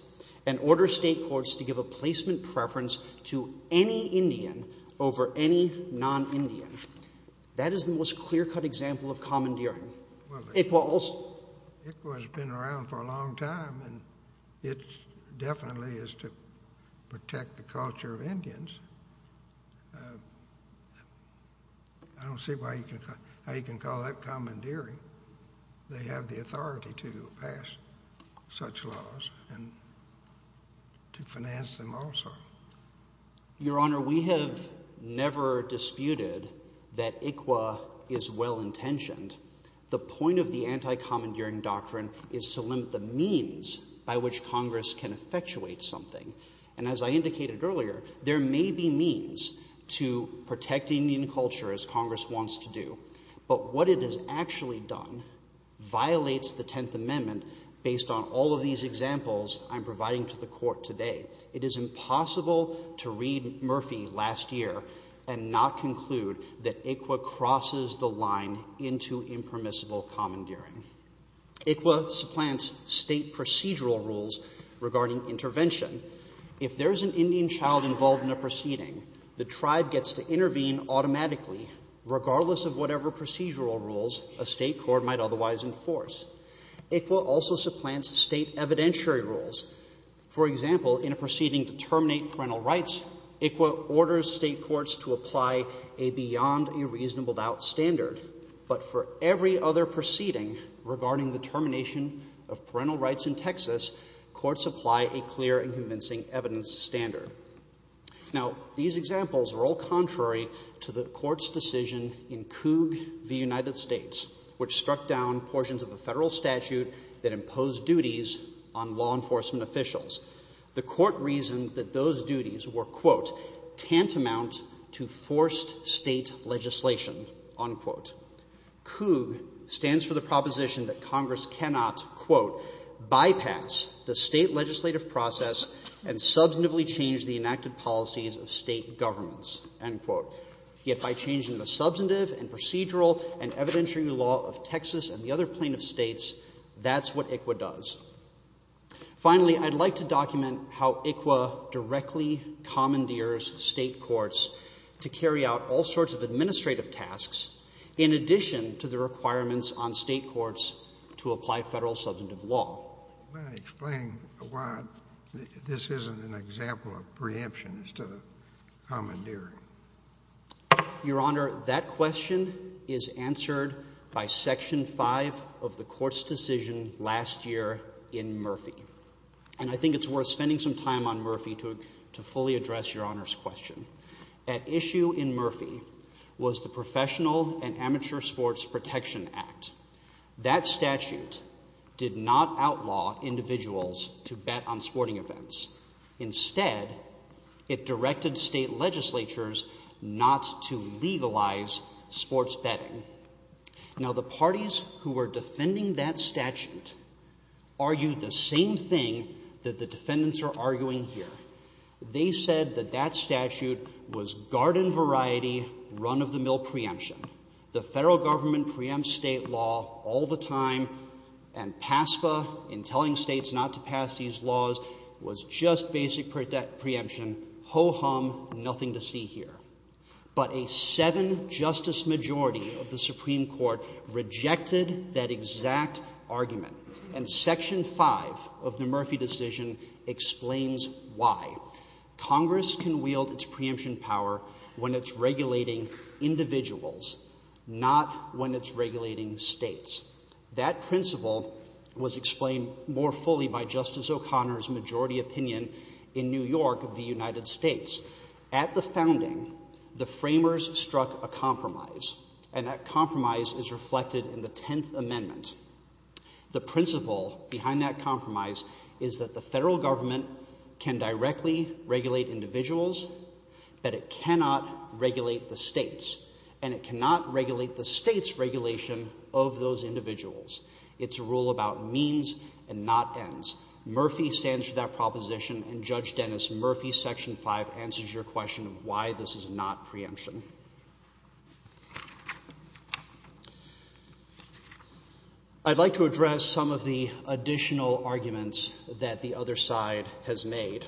and orders state courts to give a placement preference to any Indian over any non-Indian. That is the most clear-cut example of commandeering. ICWA also. ICWA has been around for a long time and it definitely is to protect the culture of Indians. I don't see why you can call that commandeering. They have the authority to pass such laws and to finance them also. Your Honor, we have never disputed that ICWA is well-intentioned. The point of the anti-commandeering doctrine is to limit the means by which Congress can effectuate something. And as I indicated earlier, there may be means to protect Indian culture as Congress wants to do. But what it has actually done violates the Tenth Amendment based on all of these examples I'm providing to the Court today. It is impossible to read Murphy last year and not conclude that ICWA crosses the line into impermissible commandeering. ICWA supplants state procedural rules regarding intervention. If there is an Indian child involved in a proceeding, the tribe gets to intervene automatically regardless of whatever procedural rules a state court might otherwise enforce. ICWA also supplants state evidentiary rules. For example, in a proceeding to terminate parental rights, ICWA orders state courts to apply a beyond-a-reasonable-doubt standard. But for every other proceeding regarding the termination of parental rights in Texas, courts apply a clear and convincing evidence standard. Now, these examples are all contrary to the Court's decision in Coups v. United States, which struck down portions of a federal statute that imposed duties on law enforcement officials. The Court reasoned that those duties were tantamount to forced state legislation. Coups stands for the proposition that Congress cannot bypass the state legislative process and substantively change the enacted policies of state governments. If I change the substantive and procedural and evidentiary law of Texas and the other plaintiff states, that's what ICWA does. Finally, I'd like to document how ICWA directly commandeers state courts to carry out all sorts of administrative tasks in addition to the requirements on state courts to apply federal substantive law. I can't explain why this isn't an example of preemption as to the commandeering. Your Honor, that question is answered by Section 5 of the Court's decision last year in Murphy, and I think it's worth spending some time on Murphy to fully address Your Honor's question. At issue in Murphy was the Professional and Amateur Sports Protection Act. That statute did not outlaw individuals to bet on sporting events. Instead, it directed state legislatures not to legalize sports betting. Now, the parties who are defending that statute argued the same thing that the defendants are arguing here. They said that that statute was garden-variety, run-of-the-mill preemption. The federal government preempts state law all the time, and PASCA, in telling states not to pass these laws, was just basic preemption, ho-hum, nothing to see here. But a seven-justice majority of the Supreme Court rejected that exact argument, and Section 5 of the Murphy decision explains why. Congress can wield its preemption power when it's regulating individuals, not when it's regulating states. That principle was explained more fully by Justice O'Connor's majority opinion in New York of the United States. At the founding, the framers struck a compromise, and that compromise is reflected in the Tenth Amendment. The principle behind that compromise is that the federal government can directly regulate individuals, but it cannot regulate the states, and it cannot regulate the states' regulation of those individuals. It's a rule about means and not ends. Murphy stands for that proposition, and Judge Dennis Murphy's Section 5 answers your question of why this is not preemption. I'd like to address some of the additional arguments that the other side has made.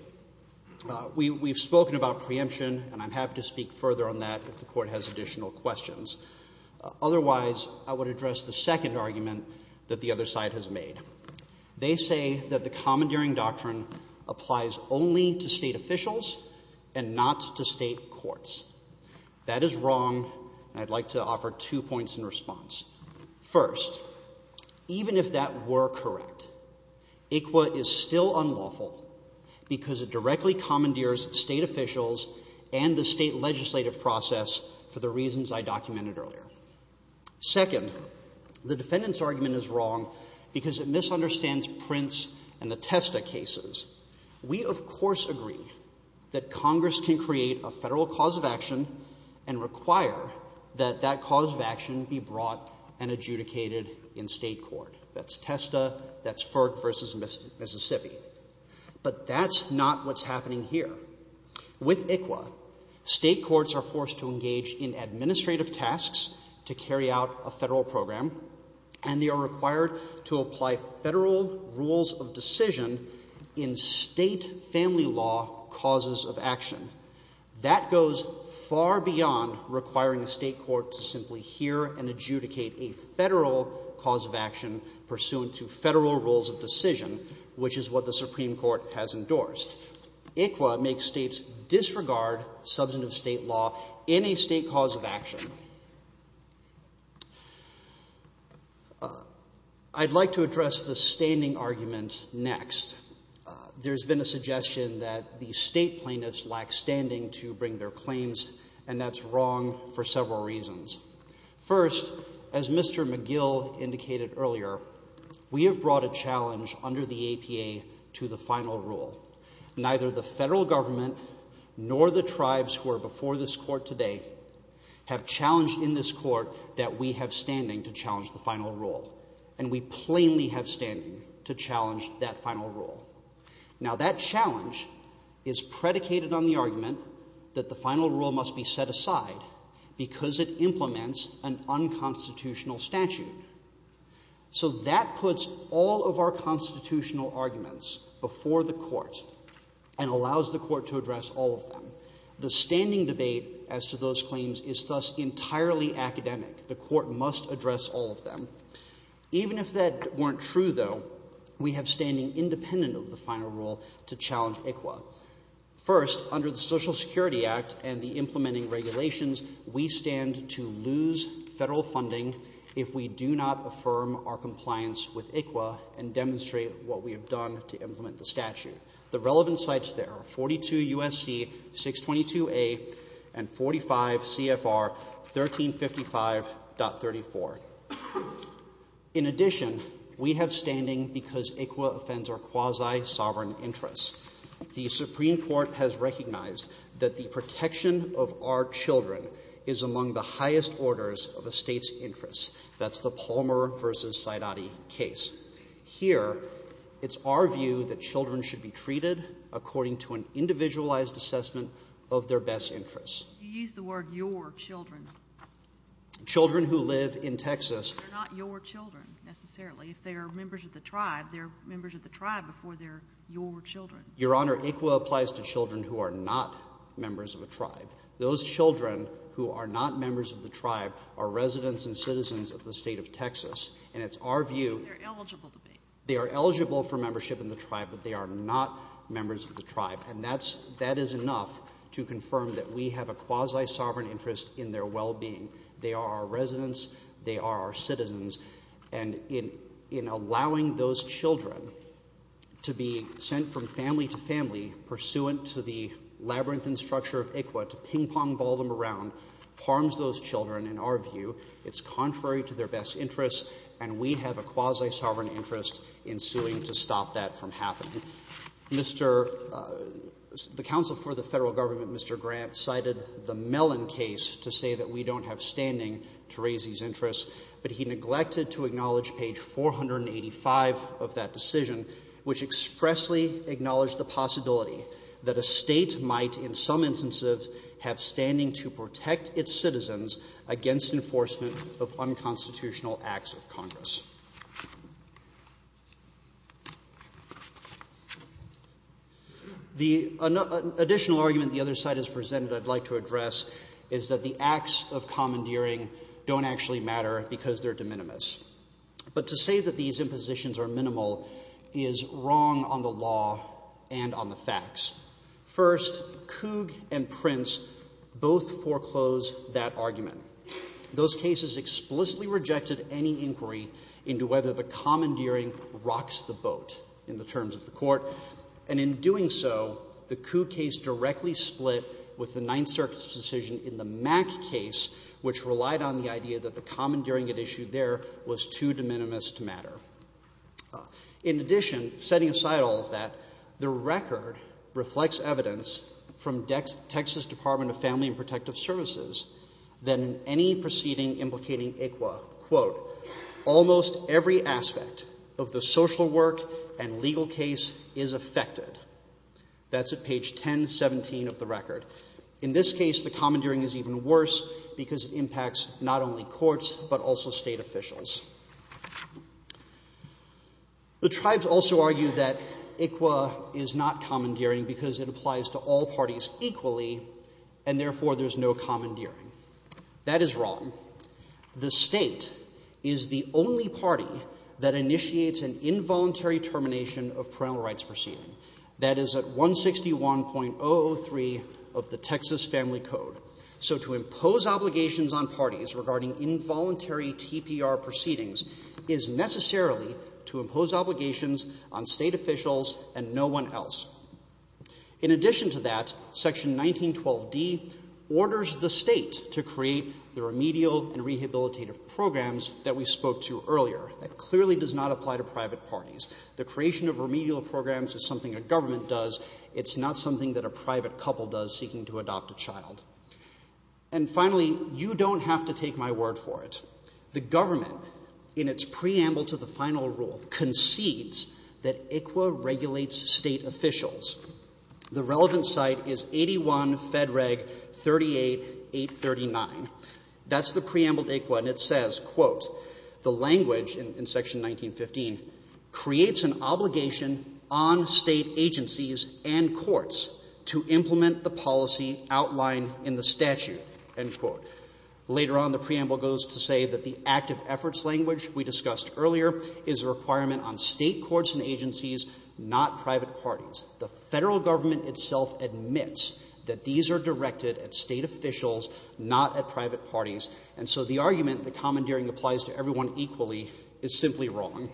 We've spoken about preemption, and I'm happy to speak further on that if the Court has additional questions. Otherwise, I would address the second argument that the other side has made. They say that the commandeering doctrine applies only to state officials and not to state courts. That is wrong, and I'd like to offer two points in response. First, even if that were correct, ICWA is still unlawful because it directly commandeers state officials and the state legislative process for the reasons I documented earlier. Second, the defendant's argument is wrong because it misunderstands Prince and the Testa cases. We, of course, agree that Congress can create a federal cause of action and require that that cause of action be brought and adjudicated in state court. That's Testa, that's Ferg v. Mississippi. But that's not what's happening here. With ICWA, state courts are forced to engage in administrative tasks to carry out a federal program, and they are required to apply federal rules of decision in state family law causes of action. That goes far beyond requiring a state court to simply hear and adjudicate a federal cause of action pursuant to federal rules of decision, which is what the Supreme Court has endorsed. ICWA makes states disregard substantive state law in a state cause of action. I'd like to address the standing argument next. There's been a suggestion that the state plaintiffs lack standing to bring their claims, and that's wrong for several reasons. First, as Mr. McGill indicated earlier, we have brought a challenge under the APA to the final rule. Neither the federal government nor the tribes who are before this court today have challenged in this court that we have standing to challenge the final rule, and we plainly have standing to challenge that final rule. Now, that challenge is predicated on the argument that the final rule must be set aside because it implements an unconstitutional statute. So that puts all of our constitutional arguments before the court and allows the court to address all of them. The standing debate as to those claims is thus entirely academic. The court must address all of them. Even if that weren't true, though, we have standing independent of the final rule to challenge ICWA. First, under the Social Security Act and the implementing regulations, we stand to lose federal funding if we do not affirm our compliance with ICWA and demonstrate what we have done to implement the statute. The relevant sites there are 42 U.S.C. 622A and 45 CFR 1355.34. In addition, we have standing because ICWA offends our quasi-sovereign interests. The Supreme Court has recognized that the protection of our children is among the highest orders of a state's interests. That's the Palmer v. Scidati case. Here, it's our view that children should be treated according to an individualized assessment of their best interests. You used the word your children. Children who live in Texas... They're not your children, necessarily. If they're members of the tribe, they're members of the tribe before they're your children. Your Honor, ICWA applies to children who are not members of a tribe. Those children who are not members of the tribe are residents and citizens of the state of Texas, and it's our view... They're eligible to be. They are eligible for membership in the tribe, but they are not members of the tribe, and that is enough to confirm that we have a quasi-sovereign interest in their well-being. They are our residents, they are our citizens, and in allowing those children to be sent from family to family, pursuant to the labyrinthine structure of ICWA, to ping-pong ball them around, harms those children, in our view, it's contrary to their best interests, and we have a quasi-sovereign interest in suing to stop that from happening. The counsel for the federal government, Mr. Grant, cited the Mellon case to say that we don't have standing to raise these interests, but he neglected to acknowledge page 485 of that decision, which expressly acknowledged the possibility that a state might, in some instances, have standing to protect its citizens against enforcement of unconstitutional acts of Congress. The additional argument the other side has presented that I'd like to address is that the acts of commandeering don't actually matter because they're de minimis. But to say that these impositions are minimal is wrong on the law and on the facts. First, Coog and Prince both foreclosed that argument. into whether the commandeering rocks the boat in the terms of the court, and in doing so, the Coog case directly split with the Ninth Circuit's decision in the Mack case, which relied on the idea that the commandeering at issue there was too de minimis to matter. In addition, setting aside all of that, the record reflects evidence from Texas Department of Family and Protective Services that in any proceeding implicating ICWA, almost every aspect of the social work and legal case is affected. That's at page 1017 of the record. In this case, the commandeering is even worse because it impacts not only courts, but also state officials. The tribes also argue that ICWA is not commandeering because it applies to all parties equally, and therefore there's no commandeering. That is wrong. The state is the only party that initiates an involuntary termination of parental rights proceedings. That is at 161.003 of the Texas Family Code. So to impose obligations on parties regarding involuntary TPR proceedings is necessarily to impose obligations on state officials and no one else. In addition to that, Section 1912d orders the state to create the remedial and rehabilitative programs that we spoke to earlier. That clearly does not apply to private parties. The creation of remedial programs is something a government does. It's not something that a private couple does seeking to adopt a child. And finally, you don't have to take my word for it. The government, in its preamble to the final rule, concedes that ICWA regulates state officials. The relevant site is 81 Fed Reg 38839. That's the preamble to ICWA, and it says, quote, the language in Section 1915 creates an obligation on state agencies and courts to implement the policy outlined in the statute, end quote. Later on, the preamble goes to say that the active efforts language we discussed earlier is a requirement on state courts and agencies, not private parties. The federal government itself admits that these are directed at state officials, not at private parties. And so the argument that commandeering applies to everyone equally is simply wrong.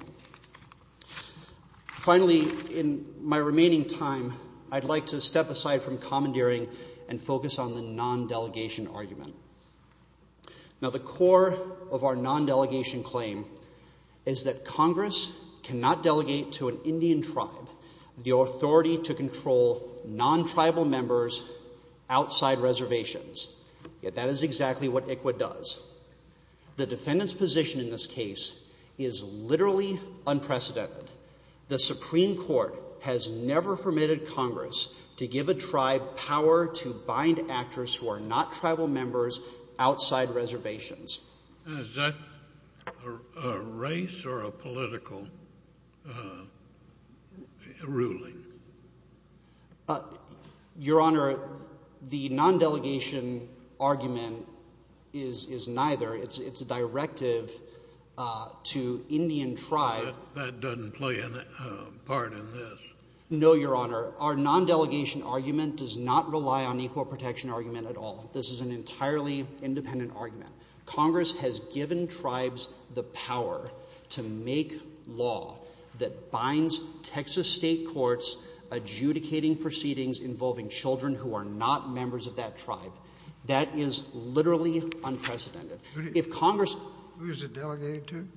Finally, in my remaining time, I'd like to step aside from commandeering and focus on the non-delegation argument. Now, the core of our non-delegation claim is that Congress cannot delegate to an Indian tribe the authority to control non-tribal members outside reservations. Yet that is exactly what ICWA does. The defendant's position in this case is literally unprecedented. The Supreme Court has never permitted Congress to give a tribe power to bind actors who are not tribal members outside reservations. A race or a political ruling? Your Honor, the non-delegation argument is neither. It's a directive to Indian tribe. That doesn't play a part in this. No, Your Honor. Our non-delegation argument does not rely on equal protection argument at all. This is an entirely independent argument. Congress has given tribes the power to make law that binds Texas state courts adjudicating proceedings involving children who are not members of that tribe. That is literally unprecedented. Who is it delegated to?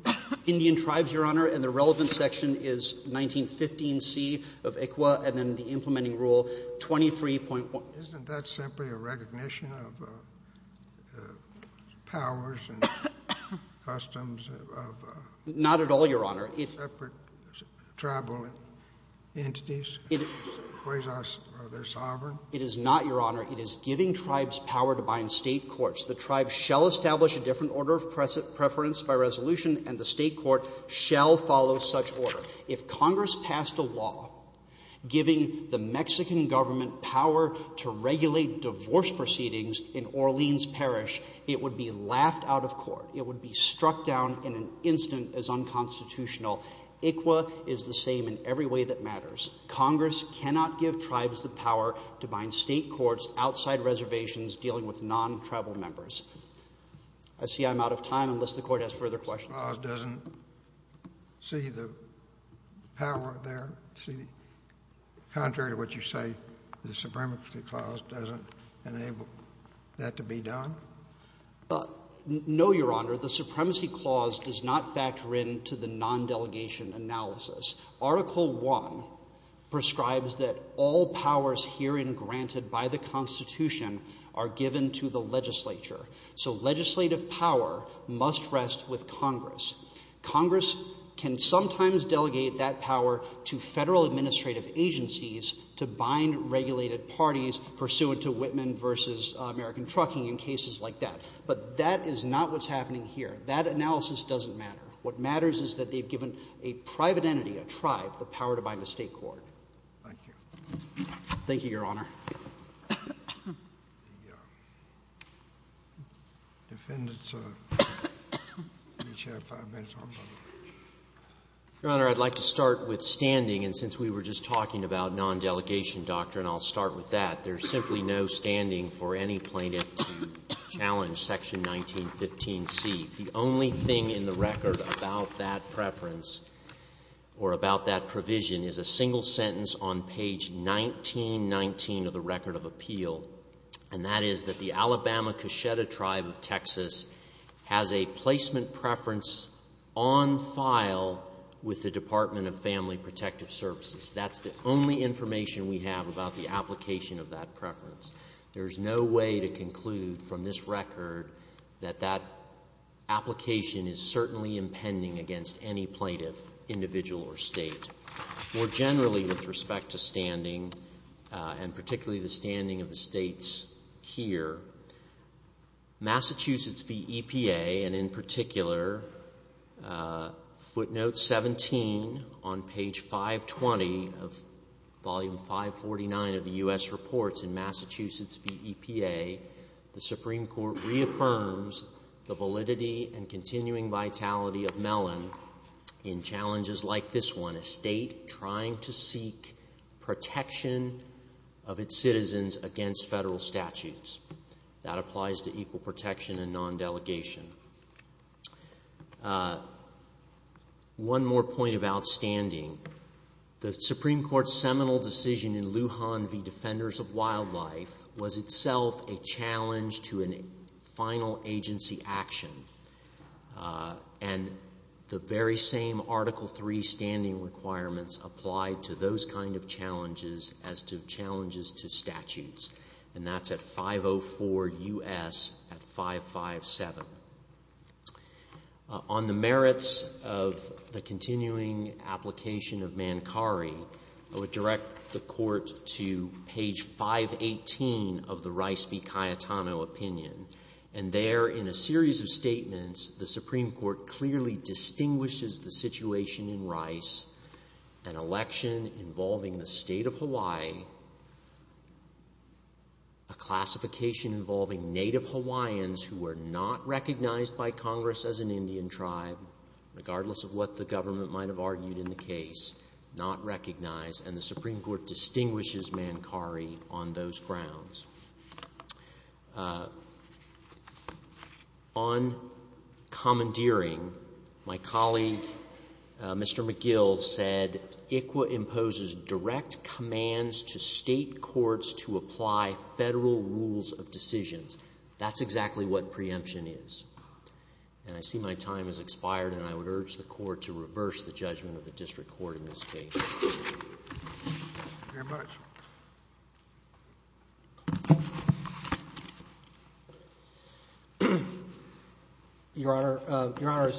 Indian tribes, Your Honor. And the relevant section is 1915C of ICWA and then the implementing rule 23.1. Isn't that simply a recognition of powers and customs of? Not at all, Your Honor. Separate tribal entities? Are they sovereign? It is not, Your Honor. It is giving tribes power to bind state courts. The tribes shall establish a different order of preference by resolution, and the state court shall follow such order. If Congress passed a law giving the Mexican government power to regulate divorce proceedings in Orleans Parish, it would be laughed out of court. It would be struck down in an instant as unconstitutional. ICWA is the same in every way that matters. Congress cannot give tribes the power to bind state courts outside reservations dealing with non-tribal members. I see I'm out of time, unless the court has further questions. The Supremacy Clause doesn't see the power there? Contrary to what you say, the Supremacy Clause doesn't enable that to be done? No, Your Honor. The Supremacy Clause does not factor into the non-delegation analysis. Article I prescribes that all powers herein granted by the Constitution are given to the legislature. So legislative power must rest with Congress. Congress can sometimes delegate that power to federal administrative agencies to bind regulated parties pursuant to Whitman versus American Trucking and cases like that. But that is not what's happening here. That analysis doesn't matter. What matters is that they've given a private entity, a tribe, the power to bind the state court. Thank you, Your Honor. Defendant, sir. You have five minutes. Your Honor, I'd like to start with standing. And since we were just talking about non-delegation doctrine, I'll start with that. There's simply no standing for any plaintiff to challenge Section 1915C. The only thing in the record about that preference or about that provision is a single sentence on page 1919 of the Record of Appeal. And that is that the Alabama Cacheta Tribe of Texas has a placement preference on file with the Department of Family Protective Services. That's the only information we have about the application of that preference. There's no way to conclude from this record that that application is certainly impending against any plaintiff, individual, or state. More generally, with respect to standing, and particularly the standing of the states here, Massachusetts v. EPA, and in particular, footnote 17 on page 520 of volume 549 of the U.S. Reports in Massachusetts v. EPA, the Supreme Court reaffirms the validity and continuing vitality of Mellon in challenges like this one, a state trying to seek protection of its citizens against federal statutes. That applies to equal protection and non-delegation. One more point about standing. The Supreme Court's seminal decision in Lujan v. Defenders of Wildlife was itself a challenge to a final agency action. And the very same Article III standing requirements apply to those kind of challenges as to challenges to statutes. And that's at 504 U.S. at 557. On the merits of the continuing application of Mancari, I would direct the Court to page 518 of the Rice v. Cayetano opinion. And there, in a series of statements, the Supreme Court clearly distinguishes the situation in Rice, an election involving the state of Hawaii, a classification involving Native Hawaiians who were not recognized by Congress as an Indian tribe, regardless of what the government might have argued in the case, not recognized, and the Supreme Court distinguishes Mancari on those grounds. On commandeering, my colleague, Mr. McGill, said, ICWA imposes direct commands to state courts to apply federal rules of decisions. That's exactly what preemption is. And I see my time has expired, and I would urge the Court to reverse the judgment of the district court in this case. Thank you very much. Your Honor,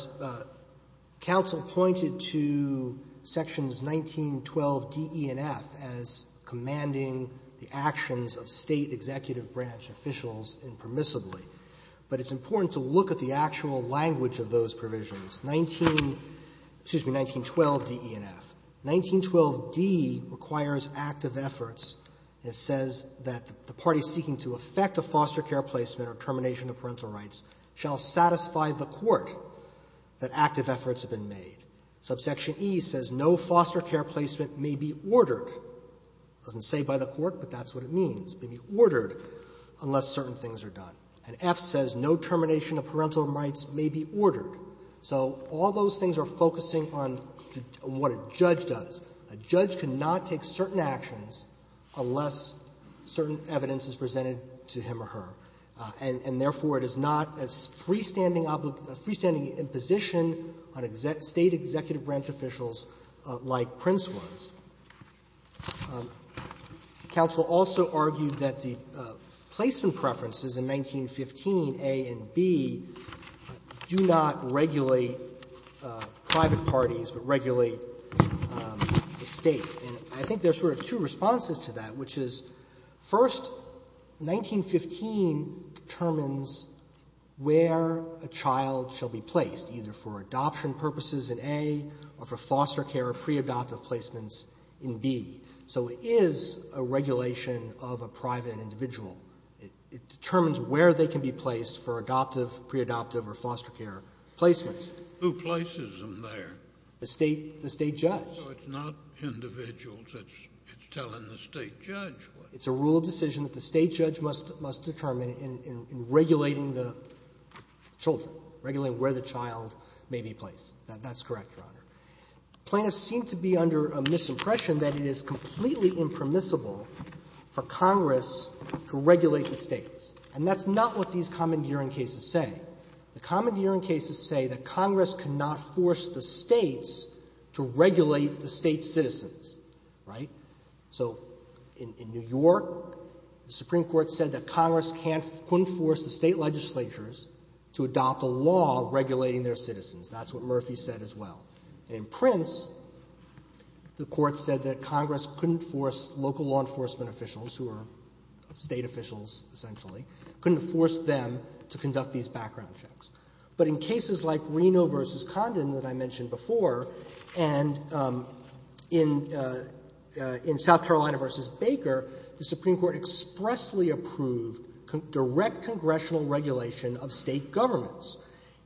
counsel pointed to sections 1912 D, E, and F as commanding the actions of state executive branch officials impermissibly. But it's important to look at the actual language of those provisions. 1912 D, E, and F. 1912 D requires active efforts. It says that the party seeking to affect the foster care placement or termination of parental rights shall satisfy the court that active efforts have been made. Subsection E says no foster care placement may be ordered. It doesn't say by the court, but that's what it means. It may be ordered unless certain things are done. And F says no termination of parental rights may be ordered. So all those things are focusing on what a judge does. A judge cannot take certain actions unless certain evidence is presented to him or her. And therefore, it is not a freestanding position on state executive branch officials like Prince was. Counsel also argued that the placement preferences in 1915 A and B do not regulate private parties, but regulate the state. And I think there's sort of two responses to that, which is first, 1915 determines where a child shall be placed, either for adoption purposes in A or for foster care or pre-adoptive placements in B. So it is a regulation of a private individual. It determines where they can be placed for adoptive, pre-adoptive, or foster care placements. Who places them there? The state judge. No, it's not individuals. It's telling the state judge. It's a rule of decision that the state judge must determine in regulating the children, regulating where the child may be placed. That's correct, Your Honor. Plaintiffs seem to be under a misimpression that it is completely impermissible for Congress to regulate the states. And that's not what these commandeering cases say. The commandeering cases say that Congress cannot force the states to regulate the state citizens. Right? So in New York, the Supreme Court said that Congress couldn't force the state legislatures to adopt a law regulating their citizens. That's what Murphy said as well. In Prince, the court said that Congress couldn't force local law enforcement officials, who are state officials, essentially, couldn't force them to conduct these background checks. But in cases like Reno v. Condon, that I mentioned before, and in South Carolina v. Baker, the Supreme Court expressly approved direct congressional regulation of state governments.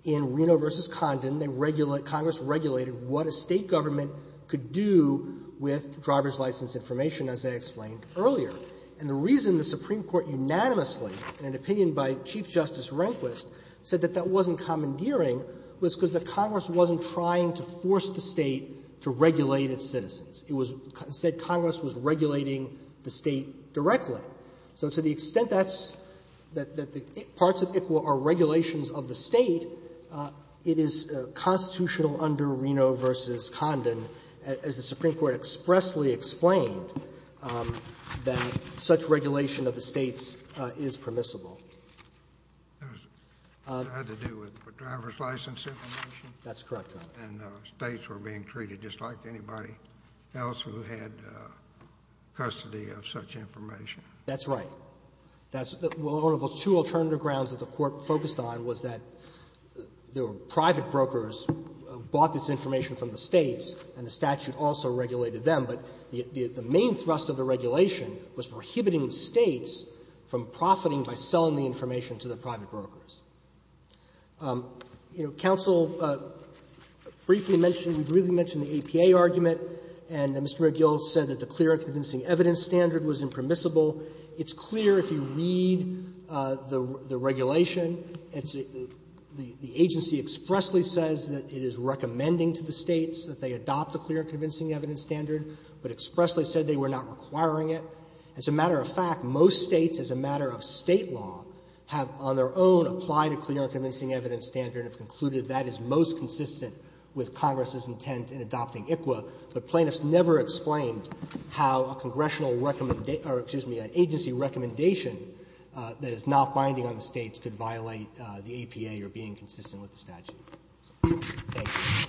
In Reno v. Condon, Congress regulated what a state government could do with driver's license information, as I explained earlier. And the reason the Supreme Court unanimously, in an opinion by Chief Justice Rehnquist, said that that wasn't commandeering was because the Congress wasn't trying to force the state to regulate its citizens. It said Congress was regulating the state directly. So to the extent that parts of it are regulations of the state, it is constitutional under Reno v. Condon, as the Supreme Court expressly explained, that such regulation of the states is permissible. It had to do with driver's license information? That's correct, Your Honor. And states were being treated just like anybody else who had custody of such information? That's right. One of the two alternative grounds that the Court focused on was that there were private brokers who bought this information from the states, and the statute also regulated them. But the main thrust of the regulation was prohibiting states from profiting by selling the information to the private brokers. You know, counsel briefly mentioned, briefly mentioned the APA argument, and Mr. O'Gill said that the clear and convincing evidence standard was impermissible. It's clear if you read the regulation, the agency expressly says that it is recommending to the states that they adopt the clear and convincing evidence standard, but expressly said they were not requiring it. As a matter of fact, most states, as a matter of state law, have on their own applied a clear and convincing evidence standard and concluded that is most consistent with Congress's intent in adopting ICWA, but plaintiffs never explained how an agency recommendation that is not binding on the states could violate the APA or being consistent with the statute. Thank you.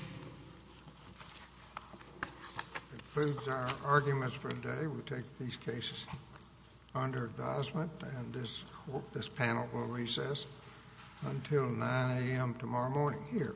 That concludes our arguments for today. We take these cases under advisement, and this panel will recess until 9 AM tomorrow morning here.